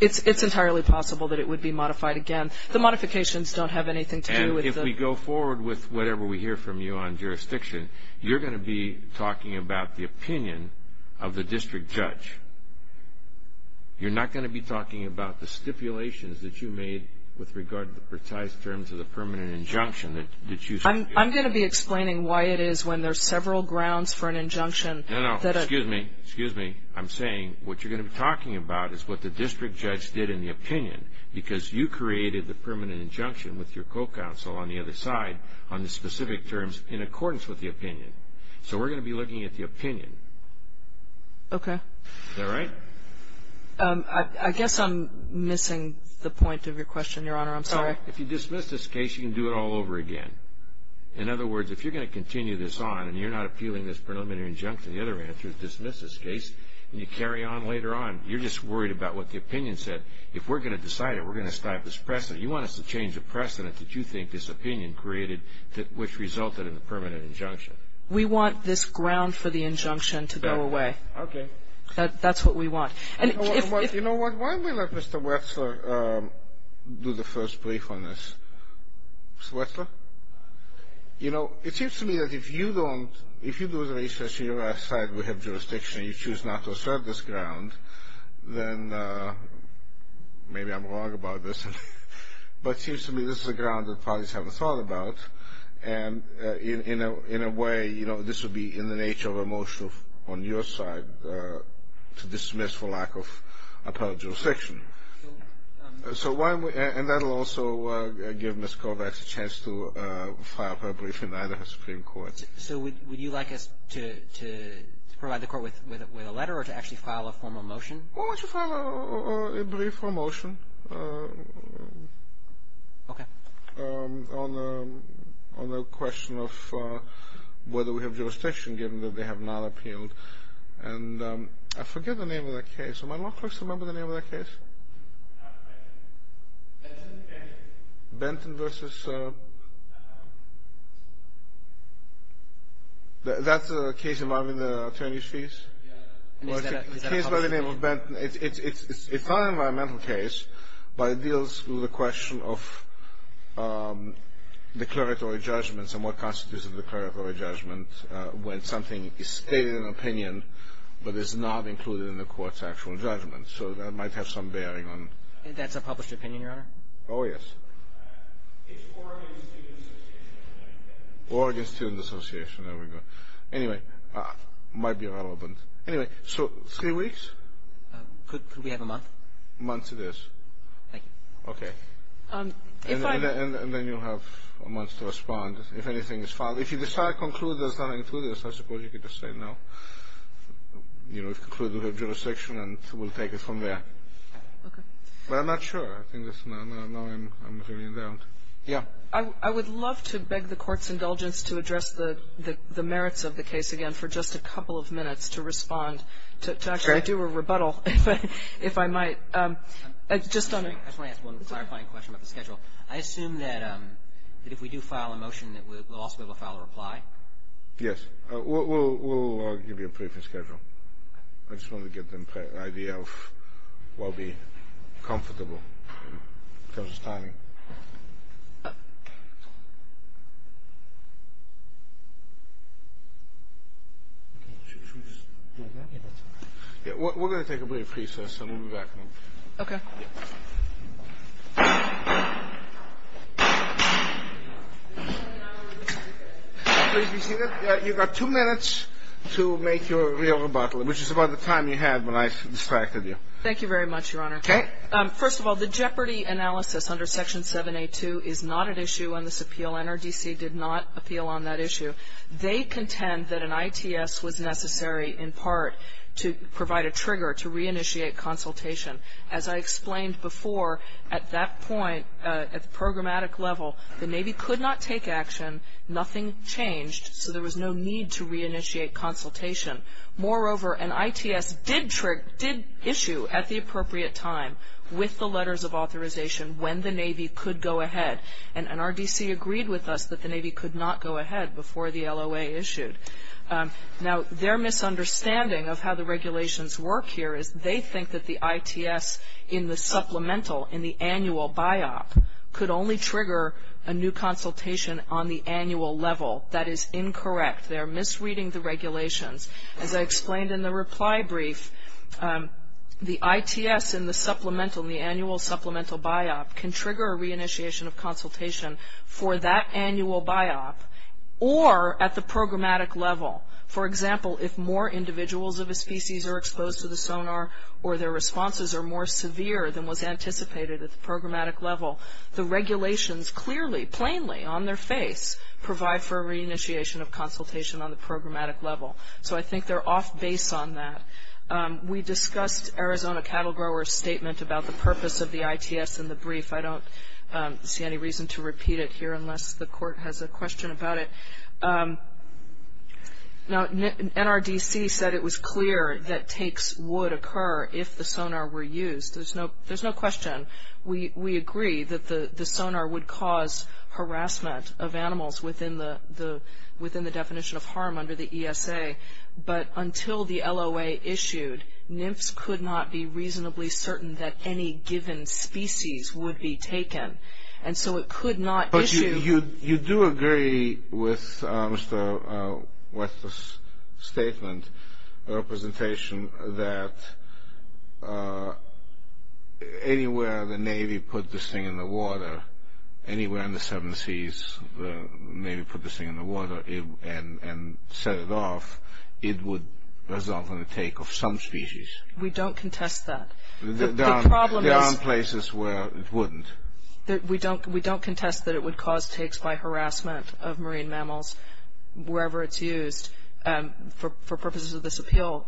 It's entirely possible that it would be modified again. The modifications don't have anything to do with the injunction. So when we go forward with whatever we hear from you on jurisdiction, you're going to be talking about the opinion of the district judge. You're not going to be talking about the stipulations that you have to decide on the specific terms in accordance with the opinion. So we're going to at the opinion. Is that right? I guess I'm missing the point of your question, Your Honor. I'm sorry. If you dismiss this case, you can do it all over again. In other words, if you're going to continue this on and you're not appealing this preliminary injunction, the other answer is dismiss this case and you carry on later on, you're just worried about what the opinion said. If we're going to change the precedent, you want us to change the precedent that you think this opinion created, which resulted in the permanent injunction. We want this ground for the injunction to go away. That's what we want. You know what? Why don't we let Mr. Wetzler do the first brief on this? Mr. Wetzler? You know, it seems to me that if you do the research and your side will have jurisdiction and you choose not to assert this ground, then maybe I'm wrong about this, but it seems to me this is a ground that parties haven't thought about, and in a way, this would be in your side to dismiss for lack of appellate jurisdiction. And that will also give Ms. Kovacs a chance to file her brief in either Supreme Court. So would you like us to provide the Court with a letter or to actually file a formal motion? Why don't you file a brief for motion on the question of whether we have jurisdiction given that they have not appealed. And I forget the name of the case. Am I not close to remembering the name of the case? Benton versus that's a case involving the attorney's fees? Is that a public opinion? It's a fine environmental case, but it deals with the question of declaratory judgments and what constitutes a declaratory judgment when something is stated in opinion but is not included in the Court's actual judgment. So that might have some bearing on... That's a published opinion, Your Honor? Oh, yes. It's Oregon Student Association. Oregon Student Association. There we go. Anyway, might be relevant. Anyway, so three weeks? Could we have a month? A month it is. Thank you. Okay. And then you'll have a month to respond if anything is filed. If you don't have anything you'll have a month to respond. I would love to beg the Court's indulgence to address the merits of the case again for just a couple of minutes to respond, to actually do a rebuttal, if I might. I just want to ask one clarifying question about the schedule. I assume that if we do file a motion that we'll also be able to file a reply? Yes. We'll give you a briefing schedule. I just wanted to give them an idea of what will be comfortable in terms of timing. We're going to take a brief recess and we'll be back couple of minutes. Okay. You've got two minutes to make your rebuttal, which is about the time you had when I distracted you. Thank you very much, Your Honor. Okay. First of all, the jeopardy analysis under Section 782 is not an issue under this appeal. The Navy did not appeal on that issue. They contend that an ITS was necessary in part to provide a trigger to reinitiate consultation. As I explained before, at that point, at the programmatic level, the Navy could not take action, nothing changed, so there was no need to take action. The Navy could not go ahead before the LOA issued. Now, their misunderstanding of how the regulations work here is they think that the ITS in the supplemental, in the annual biop, could only trigger a new consultation on the annual level. That is incorrect. They are misreading the regulations. As I explained in the reply brief, the ITS in the supplemental, the annual supplemental biop can trigger a reinitiation of consultation for that annual biop or at the programmatic level. For example, if more individuals of a species are exposed to the sonar or their responses are more severe than was anticipated at the programmatic level, the regulations clearly, plainly on their face provide for a reinitiation of consultation on the programmatic level. So I think they are off base on that. We discussed Arizona cattle growers statement about the purpose of the ITS in the brief. I don't see any reason to repeat it here unless the court has a question about it. NRDC said it was clear that takes would occur if the sonar were used. There's no question. We agree that the sonar would cause harassment of animals within the definition of harm under the ESA, but until the LOA issued, NIFS could not be reasonably certain that any given species would be taken. And so it could not issue But you do agree with Mr. West's statement or presentation that anywhere the Navy put this thing in the water, anywhere in the seven seas, the Navy put this thing in the water and set it off, it would result in a take of some species. We don't contest that. There are places where it wouldn't. We don't contest that it would result don't agree with Mr. West's statement that any given species would be taken by harassment of marine mammals wherever it's used for purposes of this appeal.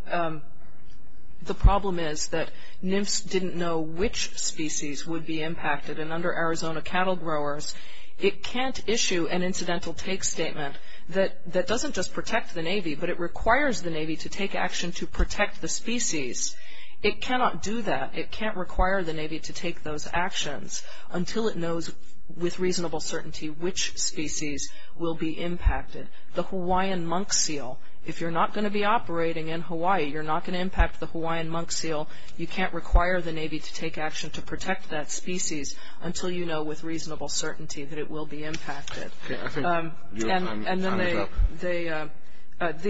The problem is that NMFS didn't know which species would be impacted and under Arizona cattle growers, it can't issue an incidental take statement that doesn't just protect the Navy, requires the Navy to take action to protect the species. It cannot do that. It can't require the Navy to take those actions until it knows with reasonable certainty which species will be impacted. The Hawaiian monk seal, if you're not going to be operating in Hawaii, you're not going to impact the Hawaiian monk seal, you can't require the Navy to take action to protect that species until you know with reasonable certainty that it will be impacted. The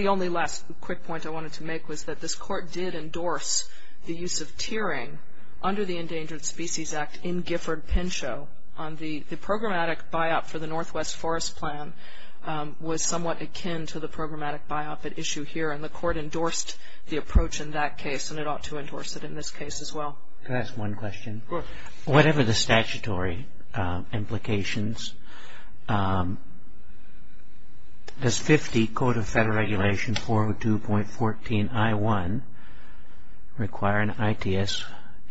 only last quick point I wanted to make was that this court did endorse the use of tiering under the Endangered Species Act in Gifford, Pinchot, on the programmatic buyout for the Northwest Forest Plan was somewhat akin to the programmatic buyout that issue here and the court endorsed the approach in that case and it ought to endorse it in this case as well. Can I ask one question? Sure. Whatever the statutory implications, does 50 Code of Federal Regulations 402.14 I1 require an ITS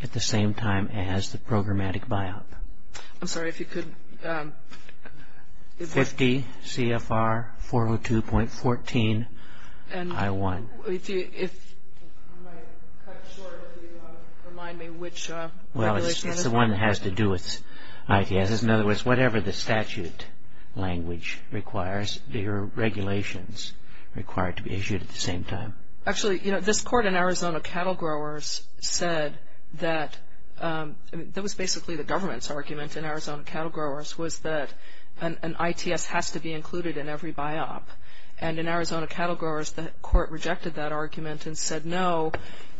at the same time as the programmatic buyout? I'm sorry, if you could... 50 CFR 402.14 I1. You might cut short if you want to remind me which regulation... Well, it's the one that has to do with ITS. In other words, whatever the statute language requires, the regulations require it to be issued at the same time. Actually, you know, this court in Arizona rejected that argument and said, no,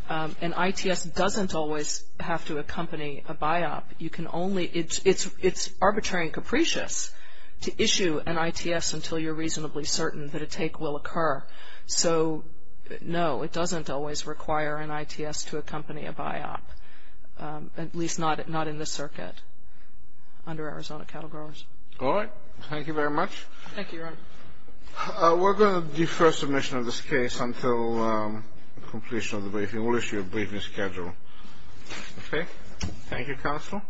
an ITS doesn't always have to accompany a buyout. You can only... It's arbitrary and capricious to issue an ITS until you're reasonably certain that a take will occur. So, no, it doesn't always require an ITS to accompany a buyout, at least not in this circuit under Arizona cattle growers. All right. Thank you very much. Thank you, Ron. We're going to defer submission of this case until completion of the briefing. We'll issue a briefing schedule. Okay. Thank you, counsel.